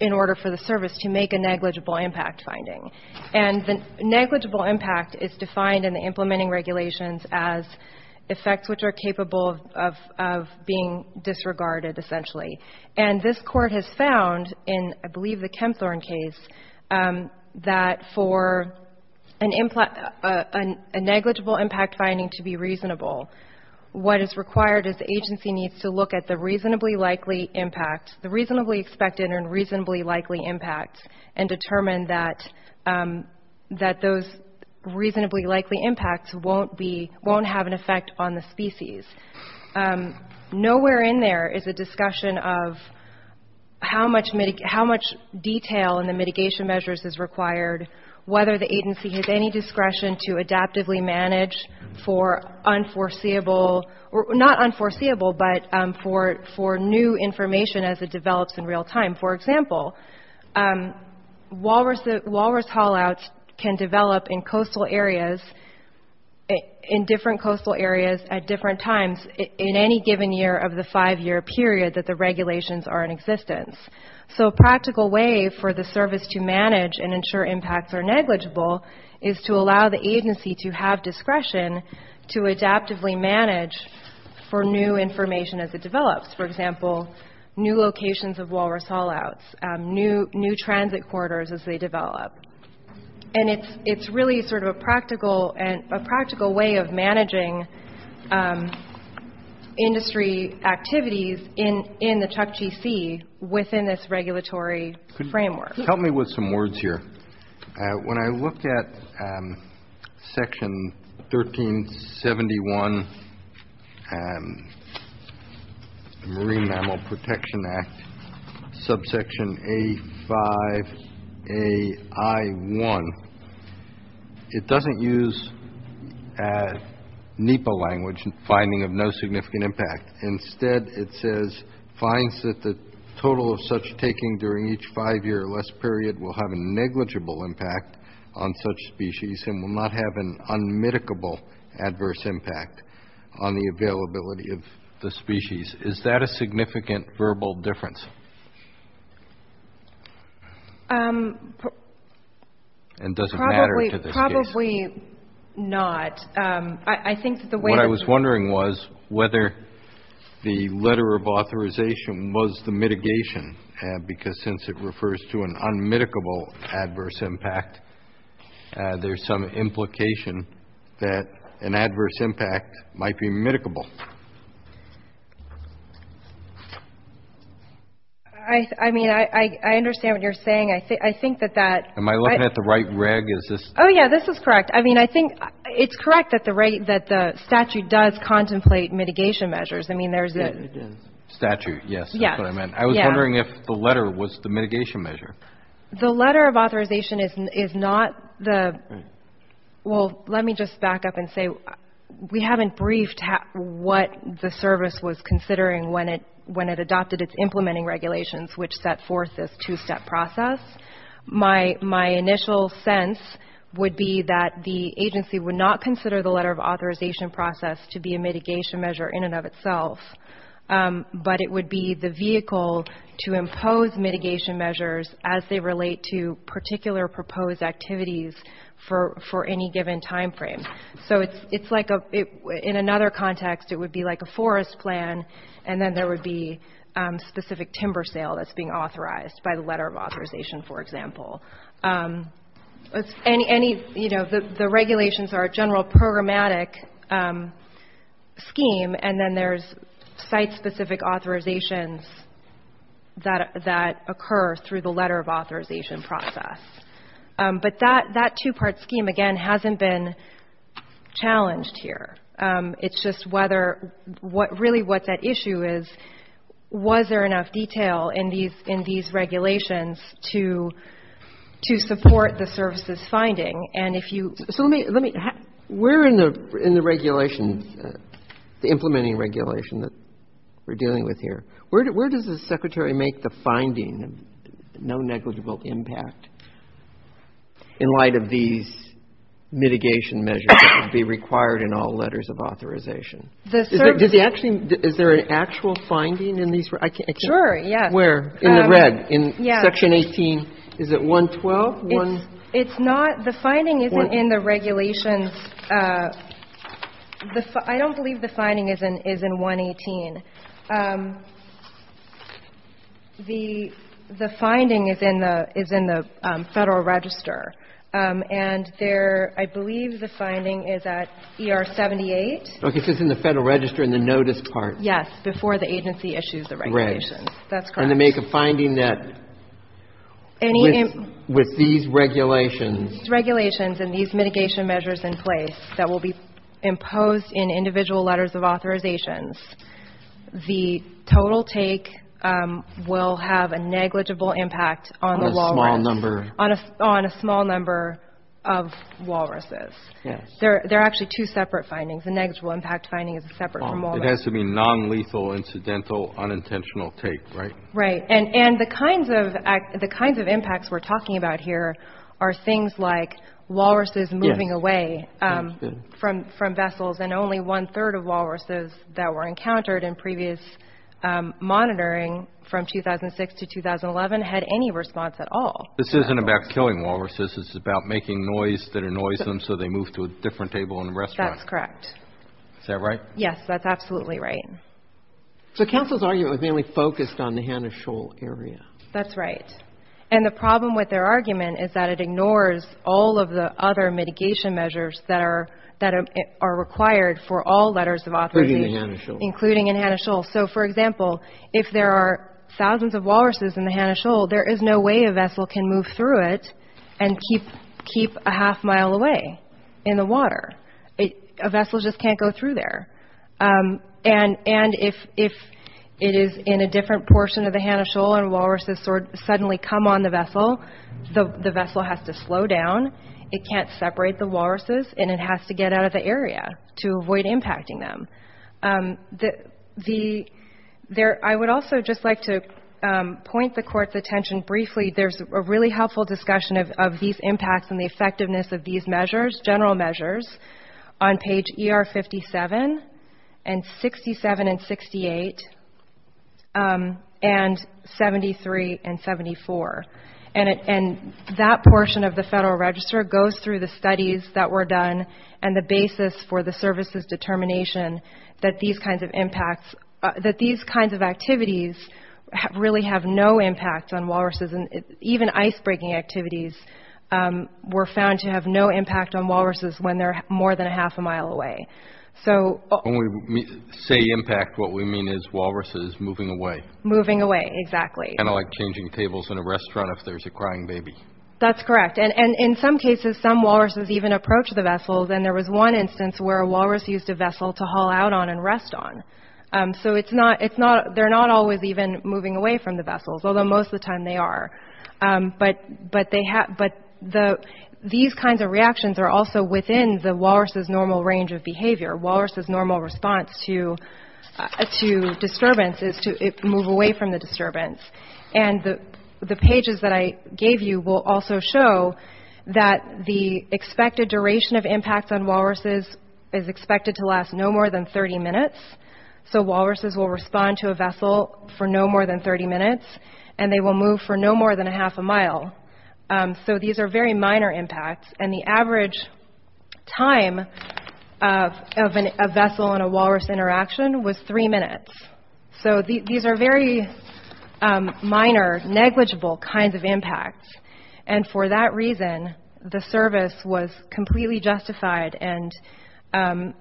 in order for the service to make a negligible impact finding. And the negligible impact is defined in the implementing regulations as effects which are capable of being disregarded, essentially. And this Court has found in, I believe, the Chemthorne case, that for a negligible impact finding to be reasonable, what is required is the agency needs to look at the reasonably likely impact, the reasonably expected and reasonably likely impact, and determine that those reasonably likely impacts won't have an effect on the species. Nowhere in there is a discussion of how much detail in the mitigation measures is required, whether the agency has any discretion to adaptively manage for unforeseeable, not unforeseeable, but for new information as it develops in real time. For example, walrus haul-outs can develop in coastal areas, in different coastal areas at different times in any given year of the five-year period that the regulations are in existence. So a practical way for the service to manage and ensure impacts are negligible is to allow the agency to have discretion to adaptively manage for new information as it develops. For example, new locations of walrus haul-outs, new transit corridors as they develop. And it's really sort of a practical way of managing industry activities in the Chukchi Sea within this regulatory framework. Help me with some words here. When I looked at Section 1371 of the Marine Mammal Protection Act, subsection A5AI1, it doesn't use NEPA language, finding of no significant impact. Instead, it says, finds that the total of such taking during each five-year or less period will have a negligible impact on such species and will not have an unmitigable adverse impact on the availability of the species. Is that a significant verbal difference? And does it matter to this case? Probably not. What I was wondering was whether the letter of authorization was the mitigation, because since it refers to an unmitigable adverse impact, there's some implication that an adverse impact might be mitigable. I mean, I understand what you're saying. I think that that – Am I looking at the right reg? Oh, yeah, this is correct. I mean, I think it's correct that the statute does contemplate mitigation measures. I mean, there's – Statute, yes. That's what I meant. I was wondering if the letter was the mitigation measure. The letter of authorization is not the – well, let me just back up and say we haven't briefed what the service was considering when it adopted its implementing regulations, which set forth this two-step process. My initial sense would be that the agency would not consider the letter of authorization process to be a mitigation measure in and of itself, but it would be the vehicle to impose mitigation measures as they relate to particular proposed activities for any given time frame. So it's like – in another context, it would be like a forest plan, and then there would be specific timber sale that's being authorized by the letter of authorization, for example. The regulations are a general programmatic scheme, and then there's site-specific authorizations that occur through the letter of authorization process. But that two-part scheme, again, hasn't been challenged here. It's just whether – really what that issue is, was there enough detail in these regulations to support the services finding, and if you – Where in the regulations, the implementing regulation that we're dealing with here, where does the Secretary make the finding of no negligible impact in light of these mitigation measures that would be required in all letters of authorization? Is there an actual finding in these – I can't – Sure, yeah. Where? In the red, in section 18, is it 112? It's not – the finding isn't in the regulations – I don't believe the finding is in 118. The finding is in the Federal Register, and there – I believe the finding is at ER 78. Okay, so it's in the Federal Register in the notice part. Yes, before the agency issues the regulations. That's correct. And they make a finding that with these regulations – With these regulations and these mitigation measures in place that will be imposed in individual letters of authorizations, the total take will have a negligible impact on the walrus – On a small number. On a small number of walruses. Yes. The negligible impact finding is separate from all that. It has to be nonlethal, incidental, unintentional take, right? Right, and the kinds of impacts we're talking about here are things like walruses moving away from vessels, and only one-third of walruses that were encountered in previous monitoring from 2006 to 2011 had any response at all. This isn't about killing walruses. It's about making noise that annoys them so they move to a different table in the restaurant. That's correct. Is that right? Yes, that's absolutely right. So councils argue it was mainly focused on the Hanna-Scholl area. That's right, and the problem with their argument is that it ignores all of the other mitigation measures that are required for all letters of authorization – Including in Hanna-Scholl. Including in Hanna-Scholl. So, for example, if there are thousands of walruses in the Hanna-Scholl, there is no way a vessel can move through it and keep a half mile away in the water. A vessel just can't go through there. And if it is in a different portion of the Hanna-Scholl and walruses suddenly come on the vessel, the vessel has to slow down, it can't separate the walruses, and it has to get out of the area to avoid impacting them. I would also just like to point the Court's attention briefly – there's a really helpful discussion of these impacts and the effectiveness of these measures, general measures, on page ER57 and 67 and 68 and 73 and 74. And that portion of the Federal Register goes through the studies that were done and the basis for the services determination that these kinds of activities really have no impact on walruses and even ice-breaking activities were found to have no impact on walruses when they're more than a half a mile away. When we say impact, what we mean is walruses moving away. Moving away, exactly. Kind of like changing tables in a restaurant if there's a crying baby. That's correct. And in some cases, some walruses even approach the vessels, and there was one instance where a walrus used a vessel to haul out on and rest on. So they're not always even moving away from the vessels, although most of the time they are. But these kinds of reactions are also within the walrus's normal range of behavior. Walrus's normal response to disturbance is to move away from the disturbance. And the pages that I gave you will also show that the expected duration of impact on walruses is expected to last no more than 30 minutes. So walruses will respond to a vessel for no more than 30 minutes, and they will move for no more than a half a mile. So these are very minor impacts. And the average time of a vessel and a walrus interaction was three minutes. So these are very minor, negligible kinds of impacts. And for that reason, the service was completely justified and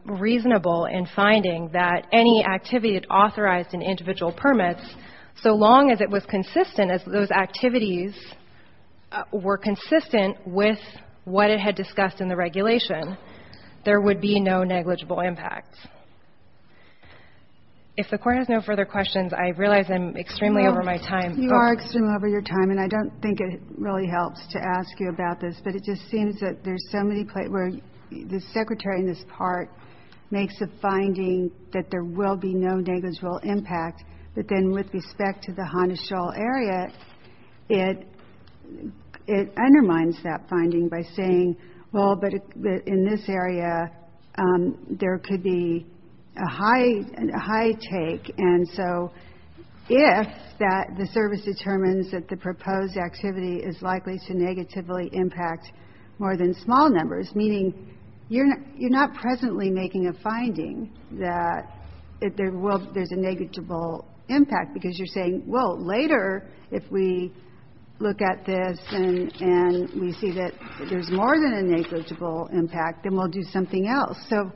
reasonable in finding that any activity authorized in individual permits, so long as it was consistent, as those activities were consistent with what it had discussed in the regulation, there would be no negligible impacts. If the court has no further questions, I realize I'm extremely over my time. You are extremely over your time, and I don't think it really helps to ask you about this, but it just seems that there's so many places where the secretary in this part makes the finding that there will be no negligible impact, but then with respect to the Honosho area, it undermines that finding by saying, well, but in this area, there could be a high take. And so if the service determines that the proposed activity is likely to negatively impact more than small numbers, meaning you're not presently making a finding that there's a negligible impact because you're saying, well, later if we look at this and we see that there's more than a negligible impact, then we'll do something else. So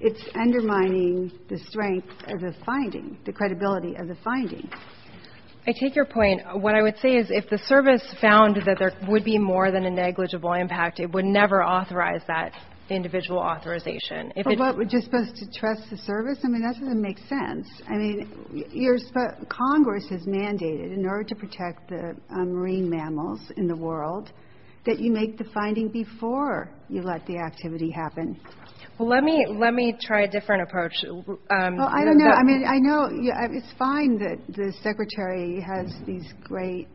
it's undermining the strength of this finding, the credibility of the finding. I take your point. What I would say is if the service found that there would be more than a negligible impact, it would never authorize that individual authorization. So what, we're just supposed to trust the service? I mean, that doesn't make sense. I mean, Congress has mandated in order to protect the marine mammals in the world that you make the finding before you let the activity happen. Well, let me try a different approach. Well, I don't know. I mean, I know it's fine that the Secretary has these great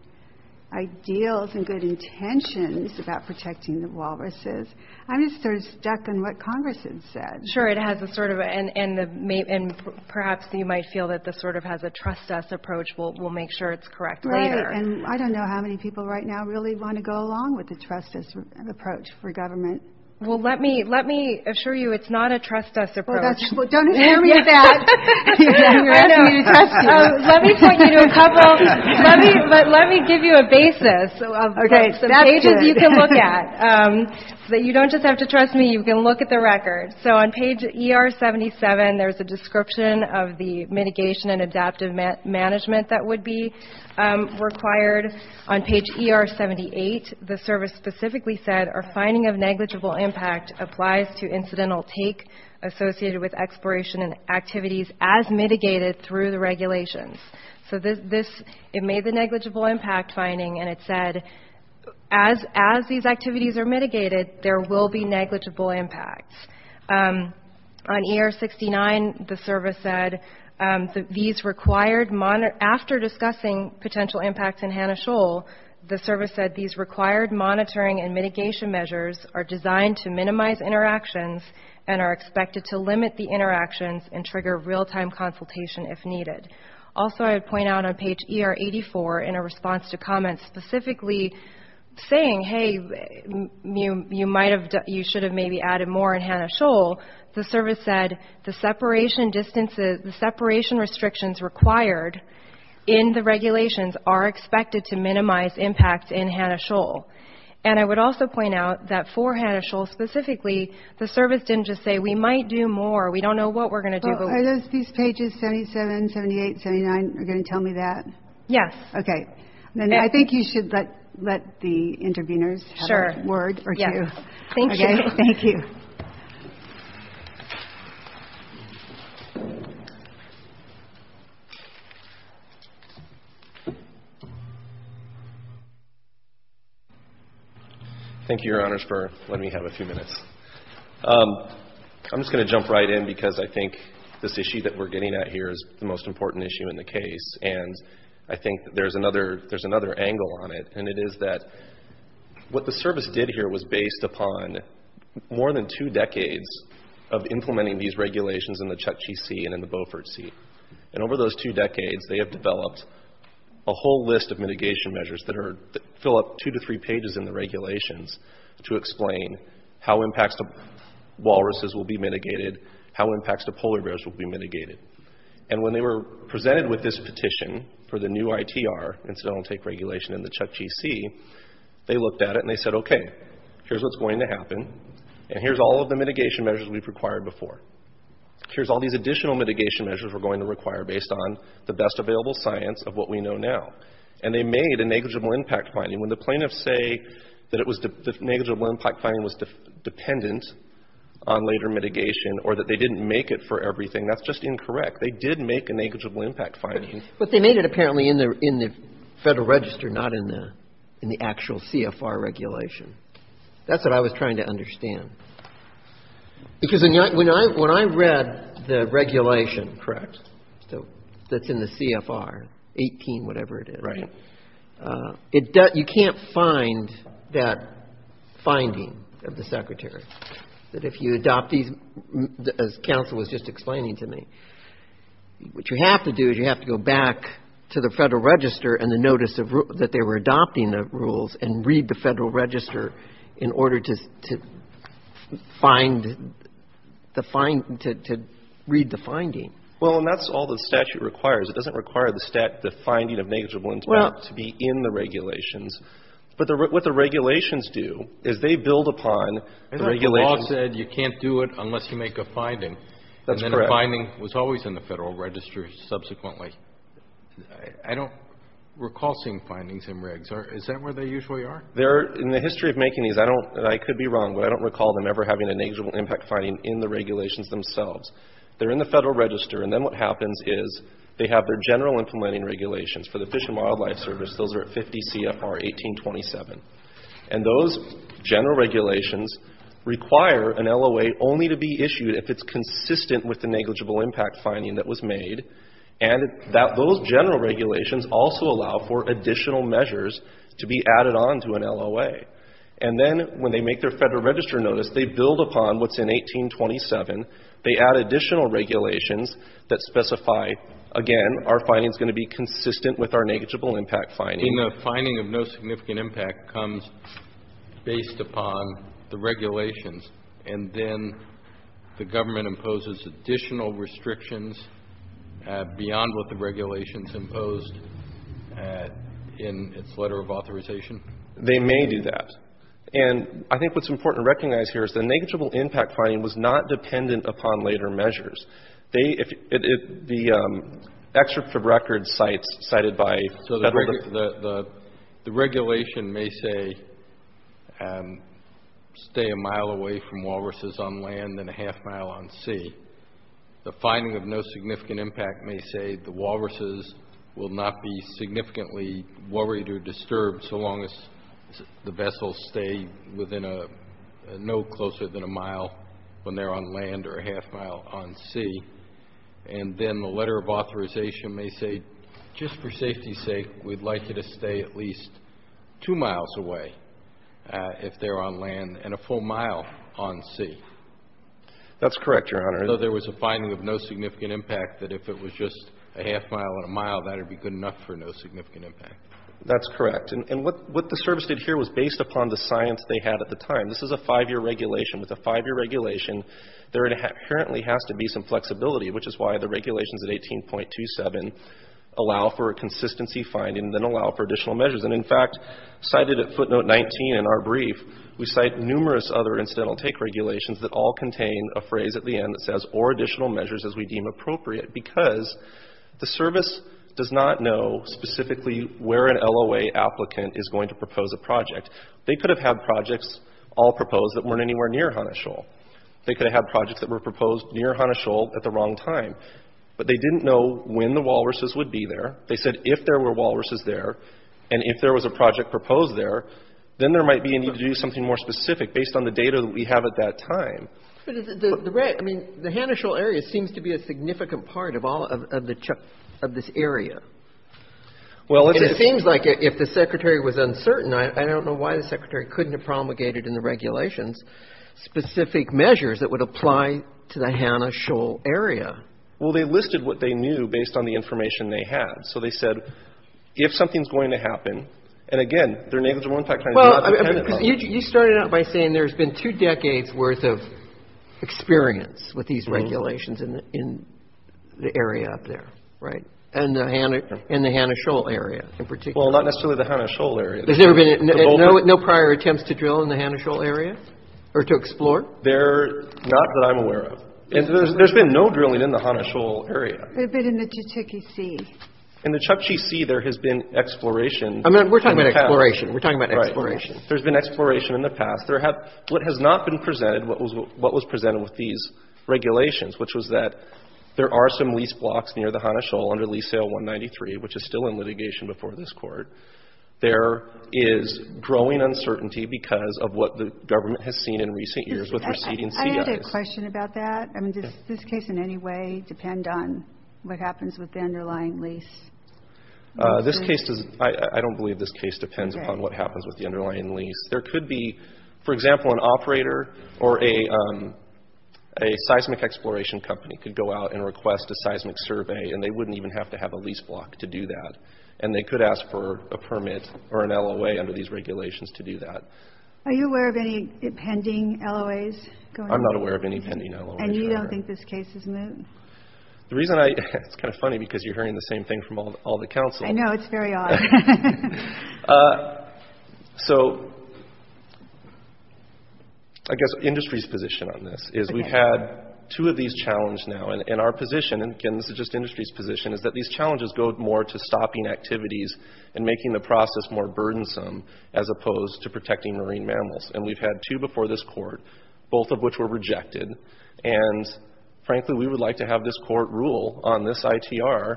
ideals and good intentions about protecting the walruses. I'm just sort of stuck in what Congress has said. Sure, it has a sort of, and perhaps you might feel that this sort of has a trust us approach. We'll make sure it's correct later. Okay, and I don't know how many people right now really want to go along with the trust us approach for government. Well, let me assure you it's not a trust us approach. Well, don't tell me that. Let me tell you a couple, let me give you a basis of what some pages you can look at. So that you don't just have to trust me, you can look at the record. So on page ER-77, there's a description of the mitigation and adaptive management that would be required. On page ER-78, the service specifically said, our finding of negligible impact applies to incidental take associated with exploration and activities as mitigated through the regulations. So this, it made the negligible impact finding, and it said, as these activities are mitigated, there will be negligible impacts. On ER-69, the service said, these required, after discussing potential impacts in Hanna-Scholl, the service said these required monitoring and mitigation measures are designed to minimize interactions and are expected to limit the interactions and trigger real-time consultation if needed. Also, I would point out on page ER-84, in a response to comments specifically saying, hey, you might have, you should have maybe added more in Hanna-Scholl, the service said the separation distances, the separation restrictions required in the regulations are expected to minimize impacts in Hanna-Scholl. And I would also point out that for Hanna-Scholl specifically, the service didn't just say we might do more, we don't know what we're going to do. Are those two pages, 77, 78, 79, are going to tell me that? Yes. Okay. And I think you should let the interveners have a word or two. Thank you. Thank you. Thank you, Your Honors, for letting me have a few minutes. I'm just going to jump right in because I think this issue that we're getting at here is the most important issue in the case. And I think there's another angle on it, and it is that what the service did here was based upon more than two decades of implementing these regulations in the Chukchi Sea and in the Beaufort Sea. And over those two decades, they have developed a whole list of mitigation measures that fill up two to three pages in the regulations to explain how impacts to walruses will be mitigated, how impacts to polar bears will be mitigated. And when they were presented with this petition for the new ITR, incidental intake regulation in the Chukchi Sea, they looked at it and they said, okay, here's what's going to happen, and here's all of the mitigation measures we've required before. Here's all these additional mitigation measures we're going to require based on the best available science of what we know now. And they made a negligible impact finding. When the plaintiffs say that the negligible impact finding was dependent on later mitigation or that they didn't make it for everything, that's just incorrect. They did make a negligible impact finding. But they made it apparently in the Federal Register, not in the actual CFR regulation. That's what I was trying to understand. Because when I read the regulation, correct, that's in the CFR, 18, whatever it is, you can't find that finding of the Secretary, that if you adopt these, as counsel was just explaining to me, what you have to do is you have to go back to the Federal Register and read the Federal Register in order to read the finding. Well, and that's all the statute requires. It doesn't require the finding of negligible impact to be in the regulations. But what the regulations do is they build upon the regulations. I thought you all said you can't do it unless you make a finding. That's correct. And then the finding was always in the Federal Register subsequently. I don't recall seeing findings in regs. Is that where they usually are? In the history of making these, I could be wrong, but I don't recall them ever having a negligible impact finding in the regulations themselves. They're in the Federal Register. And then what happens is they have their general implementing regulations. For the Fish and Wildlife Service, those are at 50 CFR 1827. And those general regulations require an LOA only to be issued if it's consistent with the negligible impact finding that was made. And those general regulations also allow for additional measures to be added on to an LOA. And then when they make their Federal Register notice, they build upon what's in 1827. They add additional regulations that specify, again, our finding is going to be consistent with our negligible impact finding. And the finding of no significant impact comes based upon the regulations. And then the government imposes additional restrictions beyond what the regulations imposed in its letter of authorization? They may do that. And I think what's important to recognize here is the negligible impact finding was not dependent upon later measures. So the regulation may say, stay a mile away from walruses on land and a half mile on sea. The finding of no significant impact may say, the walruses will not be significantly worried or disturbed so long as the vessels stay no closer than a mile when they're on land or a half mile on sea. And then the letter of authorization may say, just for safety's sake, we'd like you to stay at least two miles away if they're on land and a full mile on sea. That's correct, Your Honor. So there was a finding of no significant impact that if it was just a half mile and a mile, that would be good enough for no significant impact. That's correct. And what the service did here was based upon the science they had at the time. This is a five-year regulation. With a five-year regulation, there apparently has to be some flexibility, which is why the regulations at 18.27 allow for a consistency finding that allow for additional measures. And in fact, cited at footnote 19 in our brief, we cite numerous other incidental take regulations that all contain a phrase at the end that says, or additional measures as we deem appropriate, because the service does not know specifically where an LOA applicant is going to propose a project. They could have had projects all proposed that weren't anywhere near Hanashul. They could have had projects that were proposed near Hanashul at the wrong time. But they didn't know when the walruses would be there. They said if there were walruses there and if there was a project proposed there, then there might be a need to do something more specific based on the data that we have at that time. The Hanashul area seems to be a significant part of this area. Well, it seems like if the secretary was uncertain, I don't know why the secretary couldn't have promulgated in the regulations specific measures that would apply to the Hanashul area. Well, they listed what they knew based on the information they had. So they said, if something's going to happen, and again, their name is the one part kind of thing. Well, you started out by saying there's been two decades worth of experience with these regulations in the area out there, right? In the Hanashul area in particular. Well, not necessarily the Hanashul area. No prior attempts to drill in the Hanashul area or to explore? Not that I'm aware of. There's been no drilling in the Hanashul area. There's been in the Chukchi Sea. In the Chukchi Sea there has been exploration. We're talking about exploration. There's been exploration in the past. What has not been presented, what was presented with these regulations, which was that there are some lease blocks near the Hanashul under Lease Sale 193, which is still in litigation before this court. There is growing uncertainty because of what the government has seen in recent years with receding fees. I have a question about that. Does this case in any way depend on what happens with the underlying lease? I don't believe this case depends upon what happens with the underlying lease. There could be, for example, an operator or a seismic exploration company could go out and request a seismic survey and they wouldn't even have to have a lease block to do that. And they could ask for a permit or an LOA under these regulations to do that. Are you aware of any pending LOAs? I'm not aware of any pending LOAs. And you don't think this case is moot? The reason I... It's kind of funny because you're hearing the same thing from all the counsels. I know, it's very odd. So I guess industry's position on this is we've had two of these challenged now. And our position, and this is just industry's position, is that these challenges go more to stopping activities and making the process more burdensome as opposed to protecting marine mammals. And we've had two before this court, both of which were rejected. And frankly, we would like to have this court rule on this ITR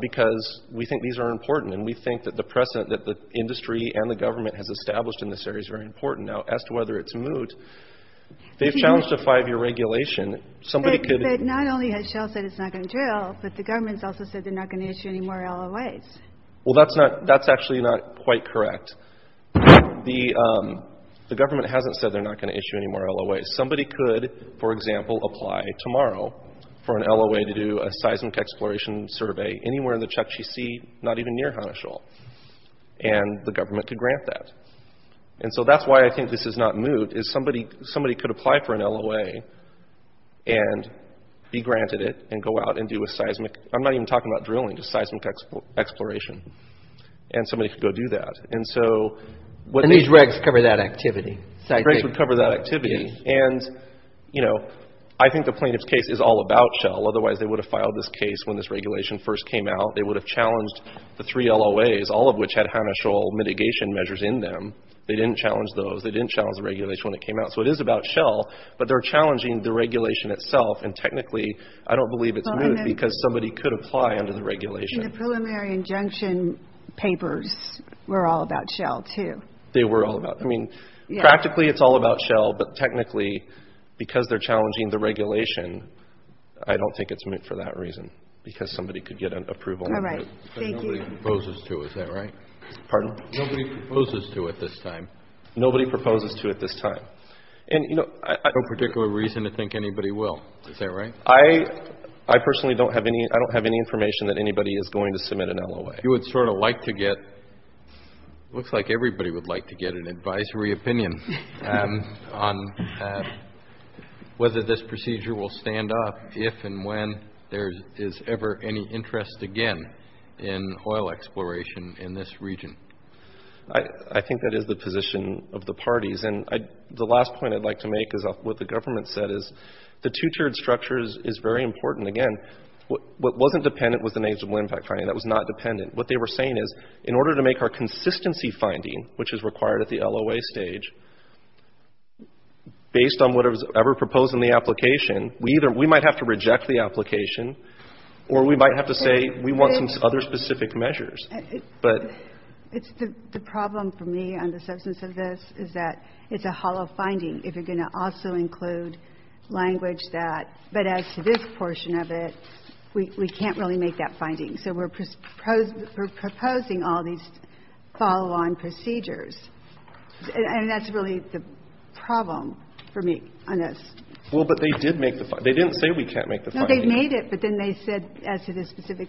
because we think these are important and we think that the precedent that the industry and the government has established in this area is very important. Now, as to whether it's moot, they've challenged a five-year regulation. Somebody could... Not only has Shell said it's not going to drill, but the government's also said they're not going to issue any more LOAs. Well, that's actually not quite correct. The government hasn't said they're not going to issue any more LOAs. Somebody could, for example, apply tomorrow for an LOA to do a seismic exploration survey anywhere in the Chukchi Sea, not even near Hanushul, and the government could grant that. And so that's why I think this is not moot, is somebody could apply for an LOA and be granted it and go out and do a seismic... I'm not even talking about drilling, just seismic exploration. And somebody could go do that. And these regs cover that activity. Regs would cover that activity. And, you know, I think the plaintiff's case is all about Shell. Otherwise they would have filed this case when this regulation first came out. They would have challenged the three LOAs, all of which had Hanushul mitigation measures in them. They didn't challenge those. They didn't challenge the regulation when it came out. So it is about Shell, but they're challenging the regulation itself, and technically I don't believe it's moot because somebody could apply under the regulation. And the preliminary injunction papers were all about Shell too. They were all about... I mean, practically it's all about Shell, but technically because they're challenging the regulation, I don't think it's moot for that reason because somebody could get an approval under it. But nobody proposes to, is that right? Pardon? Nobody proposes to at this time. Nobody proposes to at this time. And, you know... No particular reason to think anybody will. Is that right? I personally don't have any... I don't have any information that anybody is going to submit an LOA. You would sort of like to get... It looks like everybody would like to get an advisory opinion on whether this procedure will stand up if and when there is ever any interest again in oil exploration in this region. I think that is the position of the parties. And the last point I'd like to make is what the government said, is the two-tiered structure is very important. Again, what wasn't dependent was the negligible impact finding. That was not dependent. What they were saying is in order to make our consistency finding, which is required at the LOA stage, based on whatever was ever proposed in the application, we might have to reject the application or we might have to say we want some other specific measures. The problem for me on the substance of this is that it's a hollow finding if you're going to also include language that... But as to this portion of it, we can't really make that finding. So we're proposing all these follow-on procedures. And that's really the problem for me on this. Well, but they did make the finding. They didn't say we can't make the finding. No, they made it, but then they said, as to this specific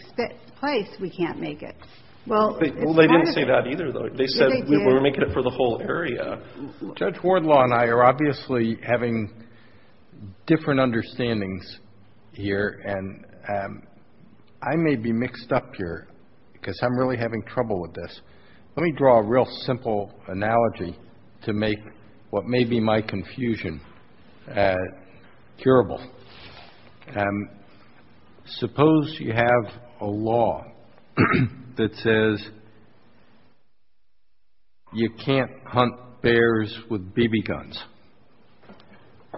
place, we can't make it. Well, they didn't say that either, though. They said we were making it for the whole area. Judge Wardlaw and I are obviously having different understandings here, and I may be mixed up here because I'm really having trouble with this. Let me draw a real simple analogy to make what may be my confusion curable. Suppose you have a law that says you can't hunt bears with BB guns,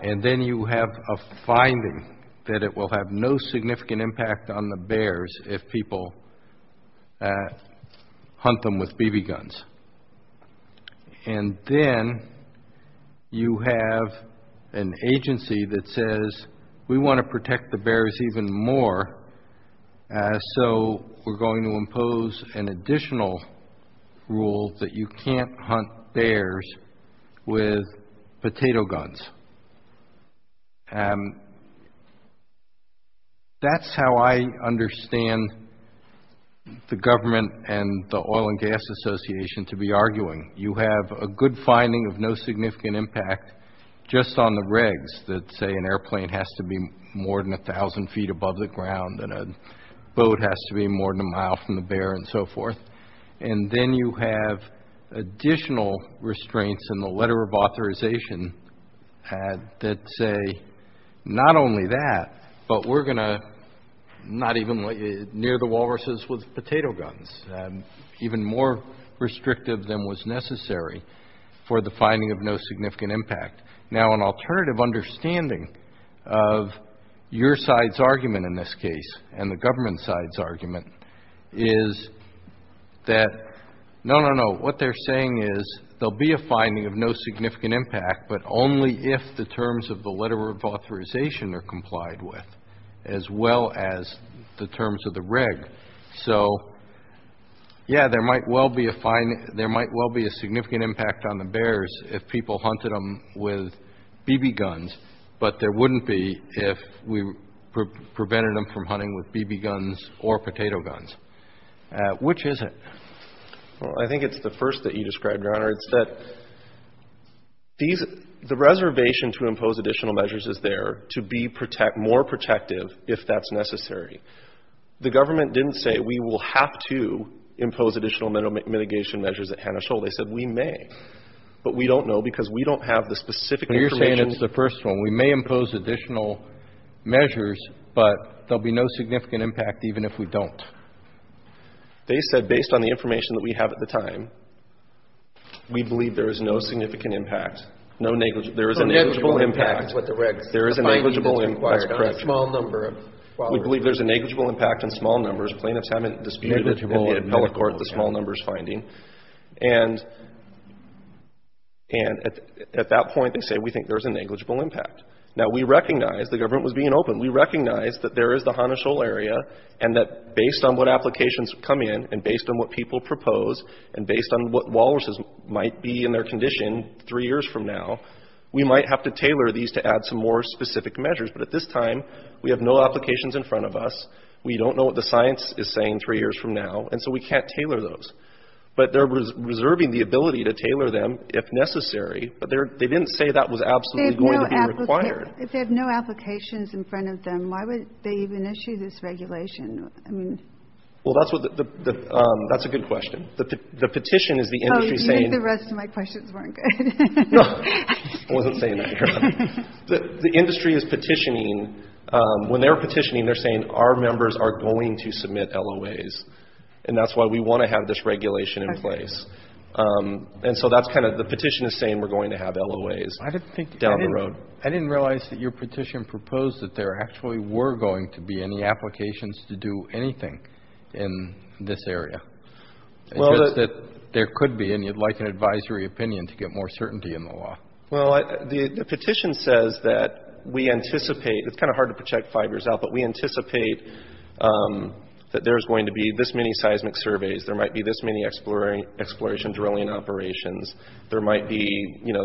and then you have a finding that it will have no significant impact on the bears if people hunt them with BB guns. And then you have an agency that says, we want to protect the bears even more, so we're going to impose an additional rule that you can't hunt bears with potato guns. That's how I understand the government and the Oil and Gas Association to be arguing. You have a good finding of no significant impact just on the regs that say an airplane has to be more than 1,000 feet above the ground and a boat has to be more than a mile from the bear and so forth, and then you have additional restraints in the letter of authorization that say not only that, but we're going to not even near the walruses with potato guns, even more restrictive than was necessary for the finding of no significant impact. Now, an alternative understanding of your side's argument in this case and the government side's argument is that, no, no, no, what they're saying is there'll be a finding of no significant impact, but only if the terms of the letter of authorization are complied with, as well as the terms of the reg. So, yeah, there might well be a significant impact on the bears if people hunted them with BB guns, but there wouldn't be if we prevented them from hunting with BB guns or potato guns. Which is it? Well, I think it's the first that you described, Your Honor. It's that the reservation to impose additional measures is there to be more protective if that's necessary. The government didn't say, we will have to impose additional mitigation measures at Hannah Shoal. They said, we may, but we don't know because we don't have the specific information. They're saying it's the first one. We may impose additional measures, but there'll be no significant impact even if we don't. They said, based on the information that we have at the time, we believe there is no significant impact. There is a negligible impact. There is a negligible impact. We believe there's a negligible impact in small numbers. Plaintiffs haven't disputed the small numbers finding. And at that point, they say, we think there's a negligible impact. Now, we recognize the government was being open. We recognize that there is the Hannah Shoal area, and that based on what applications come in and based on what people propose and based on what walruses might be in their condition three years from now, we might have to tailor these to add some more specific measures. But at this time, we have no applications in front of us. We don't know what the science is saying three years from now, and so we can't tailor those. But they're reserving the ability to tailor them if necessary, but they didn't say that was absolutely going to be required. If they have no applications in front of them, why would they even issue this regulation? Well, that's a good question. The petition is the industry saying the industry is petitioning. When they're petitioning, they're saying our members are going to submit LOAs. And that's why we want to have this regulation in place. And so that's kind of the petition is saying we're going to have LOAs down the road. I didn't realize that your petition proposed that there actually were going to be any applications to do anything in this area. There could be, and you'd like an advisory opinion to get more certainty in the law. Well, the petition says that we anticipate, it's kind of hard to project fibers out, but we anticipate that there's going to be this many seismic surveys. There might be this many exploration drilling operations. There might be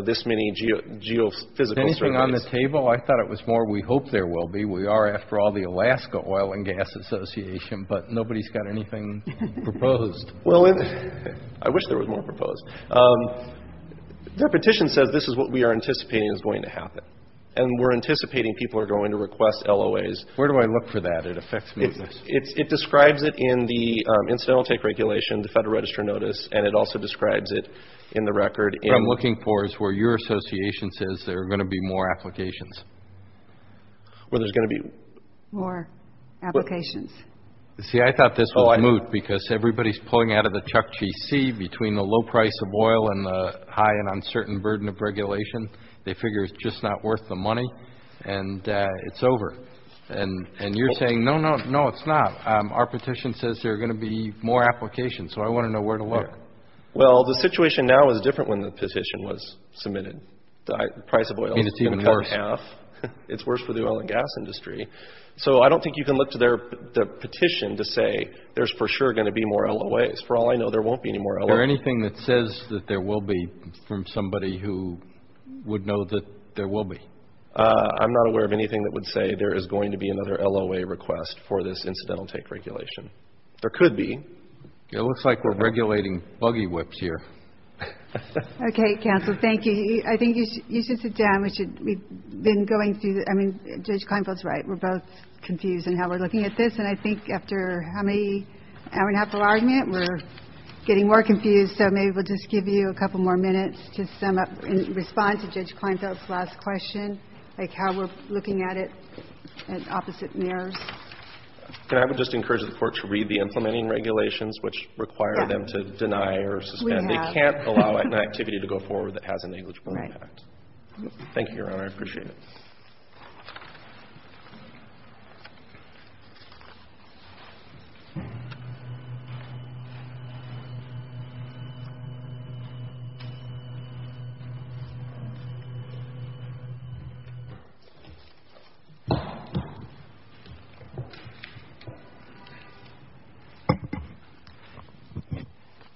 this many geophysical surveys. Is anything on the table? I thought it was more we hope there will be. We are, after all, the Alaska Oil and Gas Association, but nobody's got anything proposed. Well, I wish there was more proposed. Their petition says this is what we are anticipating is going to happen. And we're anticipating people are going to request LOAs. Where do I look for that? It affects me. It describes it in the Incidental Take Regulation, the Federal Register Notice, and it also describes it in the record. What I'm looking for is where your association says there are going to be more applications. Where there's going to be more applications. See, I thought this was moot because everybody's pulling out of the Chuck G.C. between the low price of oil and the high and uncertain burden of regulation. They figure it's just not worth the money, and it's over. And you're saying, no, no, no, it's not. Our petition says there are going to be more applications, so I want to know where to look. Well, the situation now is different than when the petition was submitted. The price of oil is cut in half. It's worse for the oil and gas industry. So I don't think you can look to their petition to say there's for sure going to be more LOAs. For all I know, there won't be any more LOAs. Is there anything that says that there will be from somebody who would know that there will be? I'm not aware of anything that would say there is going to be another LOA request for this incidental take regulation. There could be. It looks like we're regulating buggy whips here. Okay, counsel, thank you. I think you should sit down. We've been going through, I mean, Judge Klinefeld's right. We're both confused in how we're looking at this, and I think after an hour and a half of argument we're getting more confused, so maybe we'll just give you a couple more minutes to sum up in response to Judge Klinefeld's last question, like how we're looking at it in opposite mirrors. And I would just encourage the Court to read the implementing regulations, which require them to deny or suspend. They can't allow an activity to go forward that has a negligible impact. Thank you, Your Honor. I appreciate it.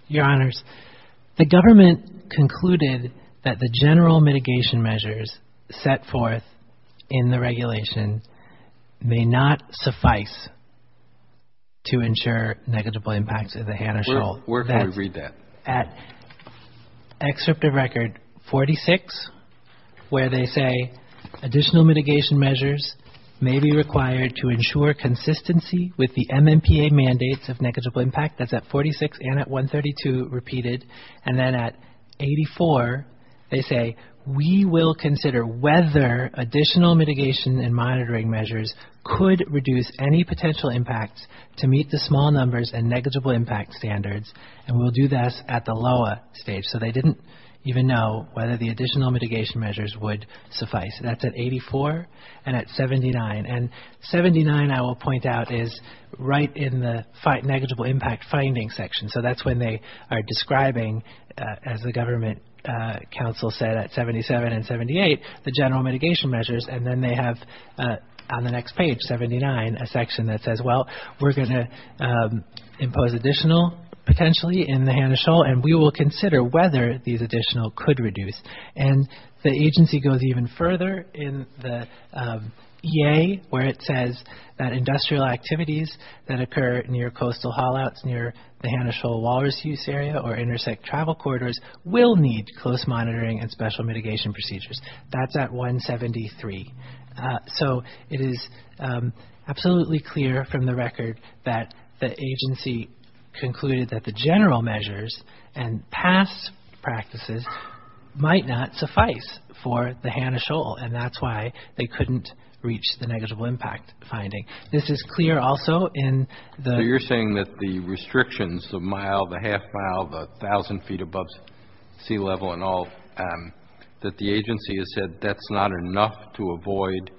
Your Honor, the government concluded that the general mitigation measures set forth in the regulation may not suffice to ensure negligible impacts, as Hannah Schultz said. Where can we read that? At Excerpt of Record 46, where they say additional mitigation measures may be required to ensure consistency with the MMPA mandates of negligible impact. That's at 46 and at 132 repeated. And then at 84, they say we will consider whether additional mitigation and monitoring measures could reduce any potential impact to meet the small numbers and negligible impact standards, and we'll do this at the lower stage. So they didn't even know whether the additional mitigation measures would suffice. That's at 84 and at 79. And 79, I will point out, is right in the negligible impact finding section. So that's when they are describing, as the government counsel said, at 77 and 78, the general mitigation measures, and then they have on the next page, 79, a section that says, well, we're going to impose additional potentially in the Hannah Schultz and we will consider whether these additional could reduce. And the agency goes even further in the EA, where it says that industrial activities that occur near coastal haul-outs near the Hannah Schultz Walrus use area or intersect travel corridors will need close monitoring and special mitigation procedures. That's at 173. So it is absolutely clear from the record that the agency concluded that the general measures and past practices might not suffice for the Hannah Schultz, and that's why they couldn't reach the negligible impact finding. This is clear also in the... that the agency has said that's not enough to avoid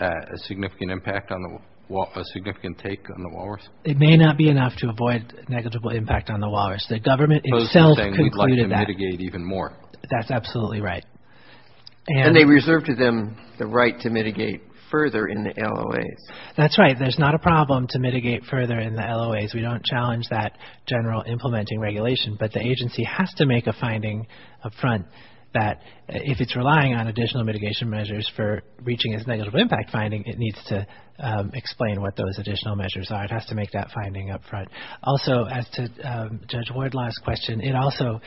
a significant impact on the Walrus, a significant take on the Walrus. It may not be enough to avoid negligible impact on the Walrus. The government itself concluded that. We'd like to mitigate even more. That's absolutely right. And they reserved to them the right to mitigate further in the LOAs. That's right. There's not a problem to mitigate further in the LOAs. We don't challenge that general implementing regulation, but the agency has to make a finding up front that if it's relying on additional mitigation measures for reaching its negligible impact finding, it needs to explain what those additional measures are. It has to make that finding up front. Also, as to Judge Wardlaw's question, it also...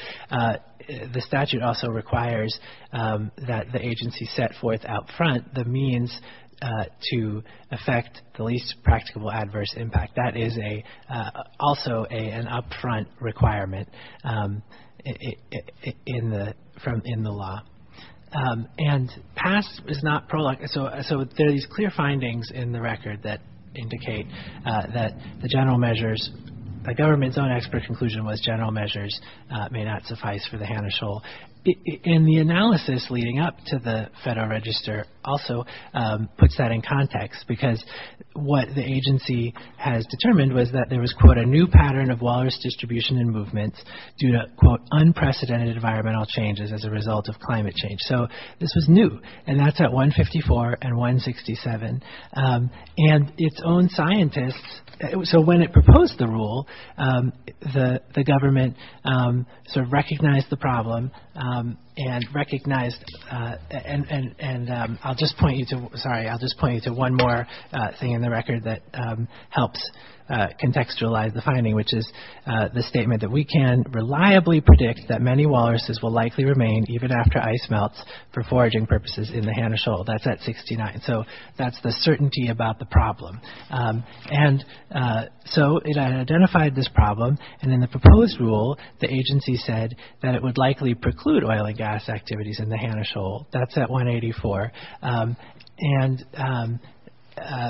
the statute also requires that the agency set forth up front the means to affect the least practicable adverse impact. That is also an up front requirement in the law. And PASS is not... so there are these clear findings in the record that indicate that the general measures... the government's own expert conclusion was general measures may not suffice for the Hannah Shoal. And the analysis leading up to the Federal Register also puts that in context because what the agency has determined was that there was, quote, a new pattern of water distribution and movement due to, quote, unprecedented environmental changes as a result of climate change. So this was new. And that's at 154 and 167. And its own scientists... so when it proposed the rule, the government sort of recognized the problem and recognized... I'll just point you to... sorry, I'll just point you to one more thing in the record that helps contextualize the finding, which is the statement that we can reliably predict that many walruses will likely remain even after ice melts for foraging purposes in the Hannah Shoal. That's at 69. So that's the certainty about the problem. And so it identified this problem. And in the proposed rule, the agency said that it would likely preclude oil and gas activities in the Hannah Shoal. That's at 184.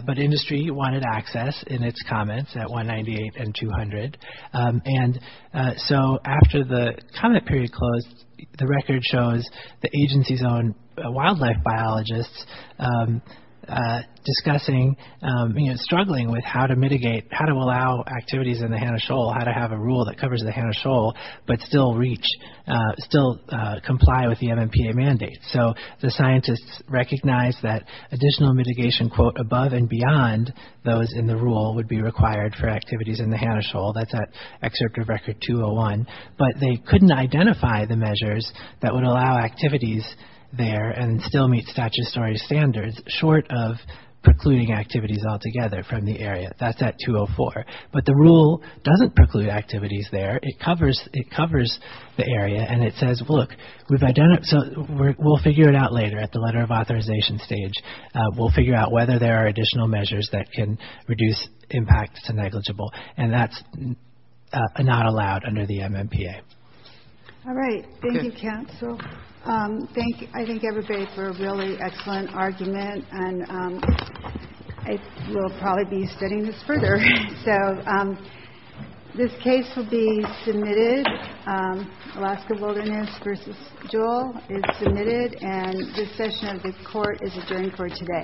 But industry wanted access in its comments at 198 and 200. And so after the climate period closed, the record shows the agency's own wildlife biologists discussing, you know, struggling with how to mitigate, how to allow activities in the Hannah Shoal, how to have a rule that covers the Hannah Shoal but still reach, still comply with the MMPA mandate. So the scientists recognized that additional mitigation, quote, above and beyond those in the rule would be required for activities in the Hannah Shoal. That's at Excerpt of Record 201. But they couldn't identify the measures that would allow activities there and still meet statutory standards short of precluding activities altogether from the area. That's at 204. But the rule doesn't preclude activities there. It covers the area. And it says, look, we've identified so we'll figure it out later at the letter of authorization stage. We'll figure out whether there are additional measures that can reduce impacts to negligible. And that's not allowed under the MMPA. All right. Thank you, Council. Thank you. I thank everybody for a really excellent argument. And I will probably be spinning this further. So this case will be submitted. Alaska Wilderness v. Jewel is submitted. And this session of this court is adjourned for today.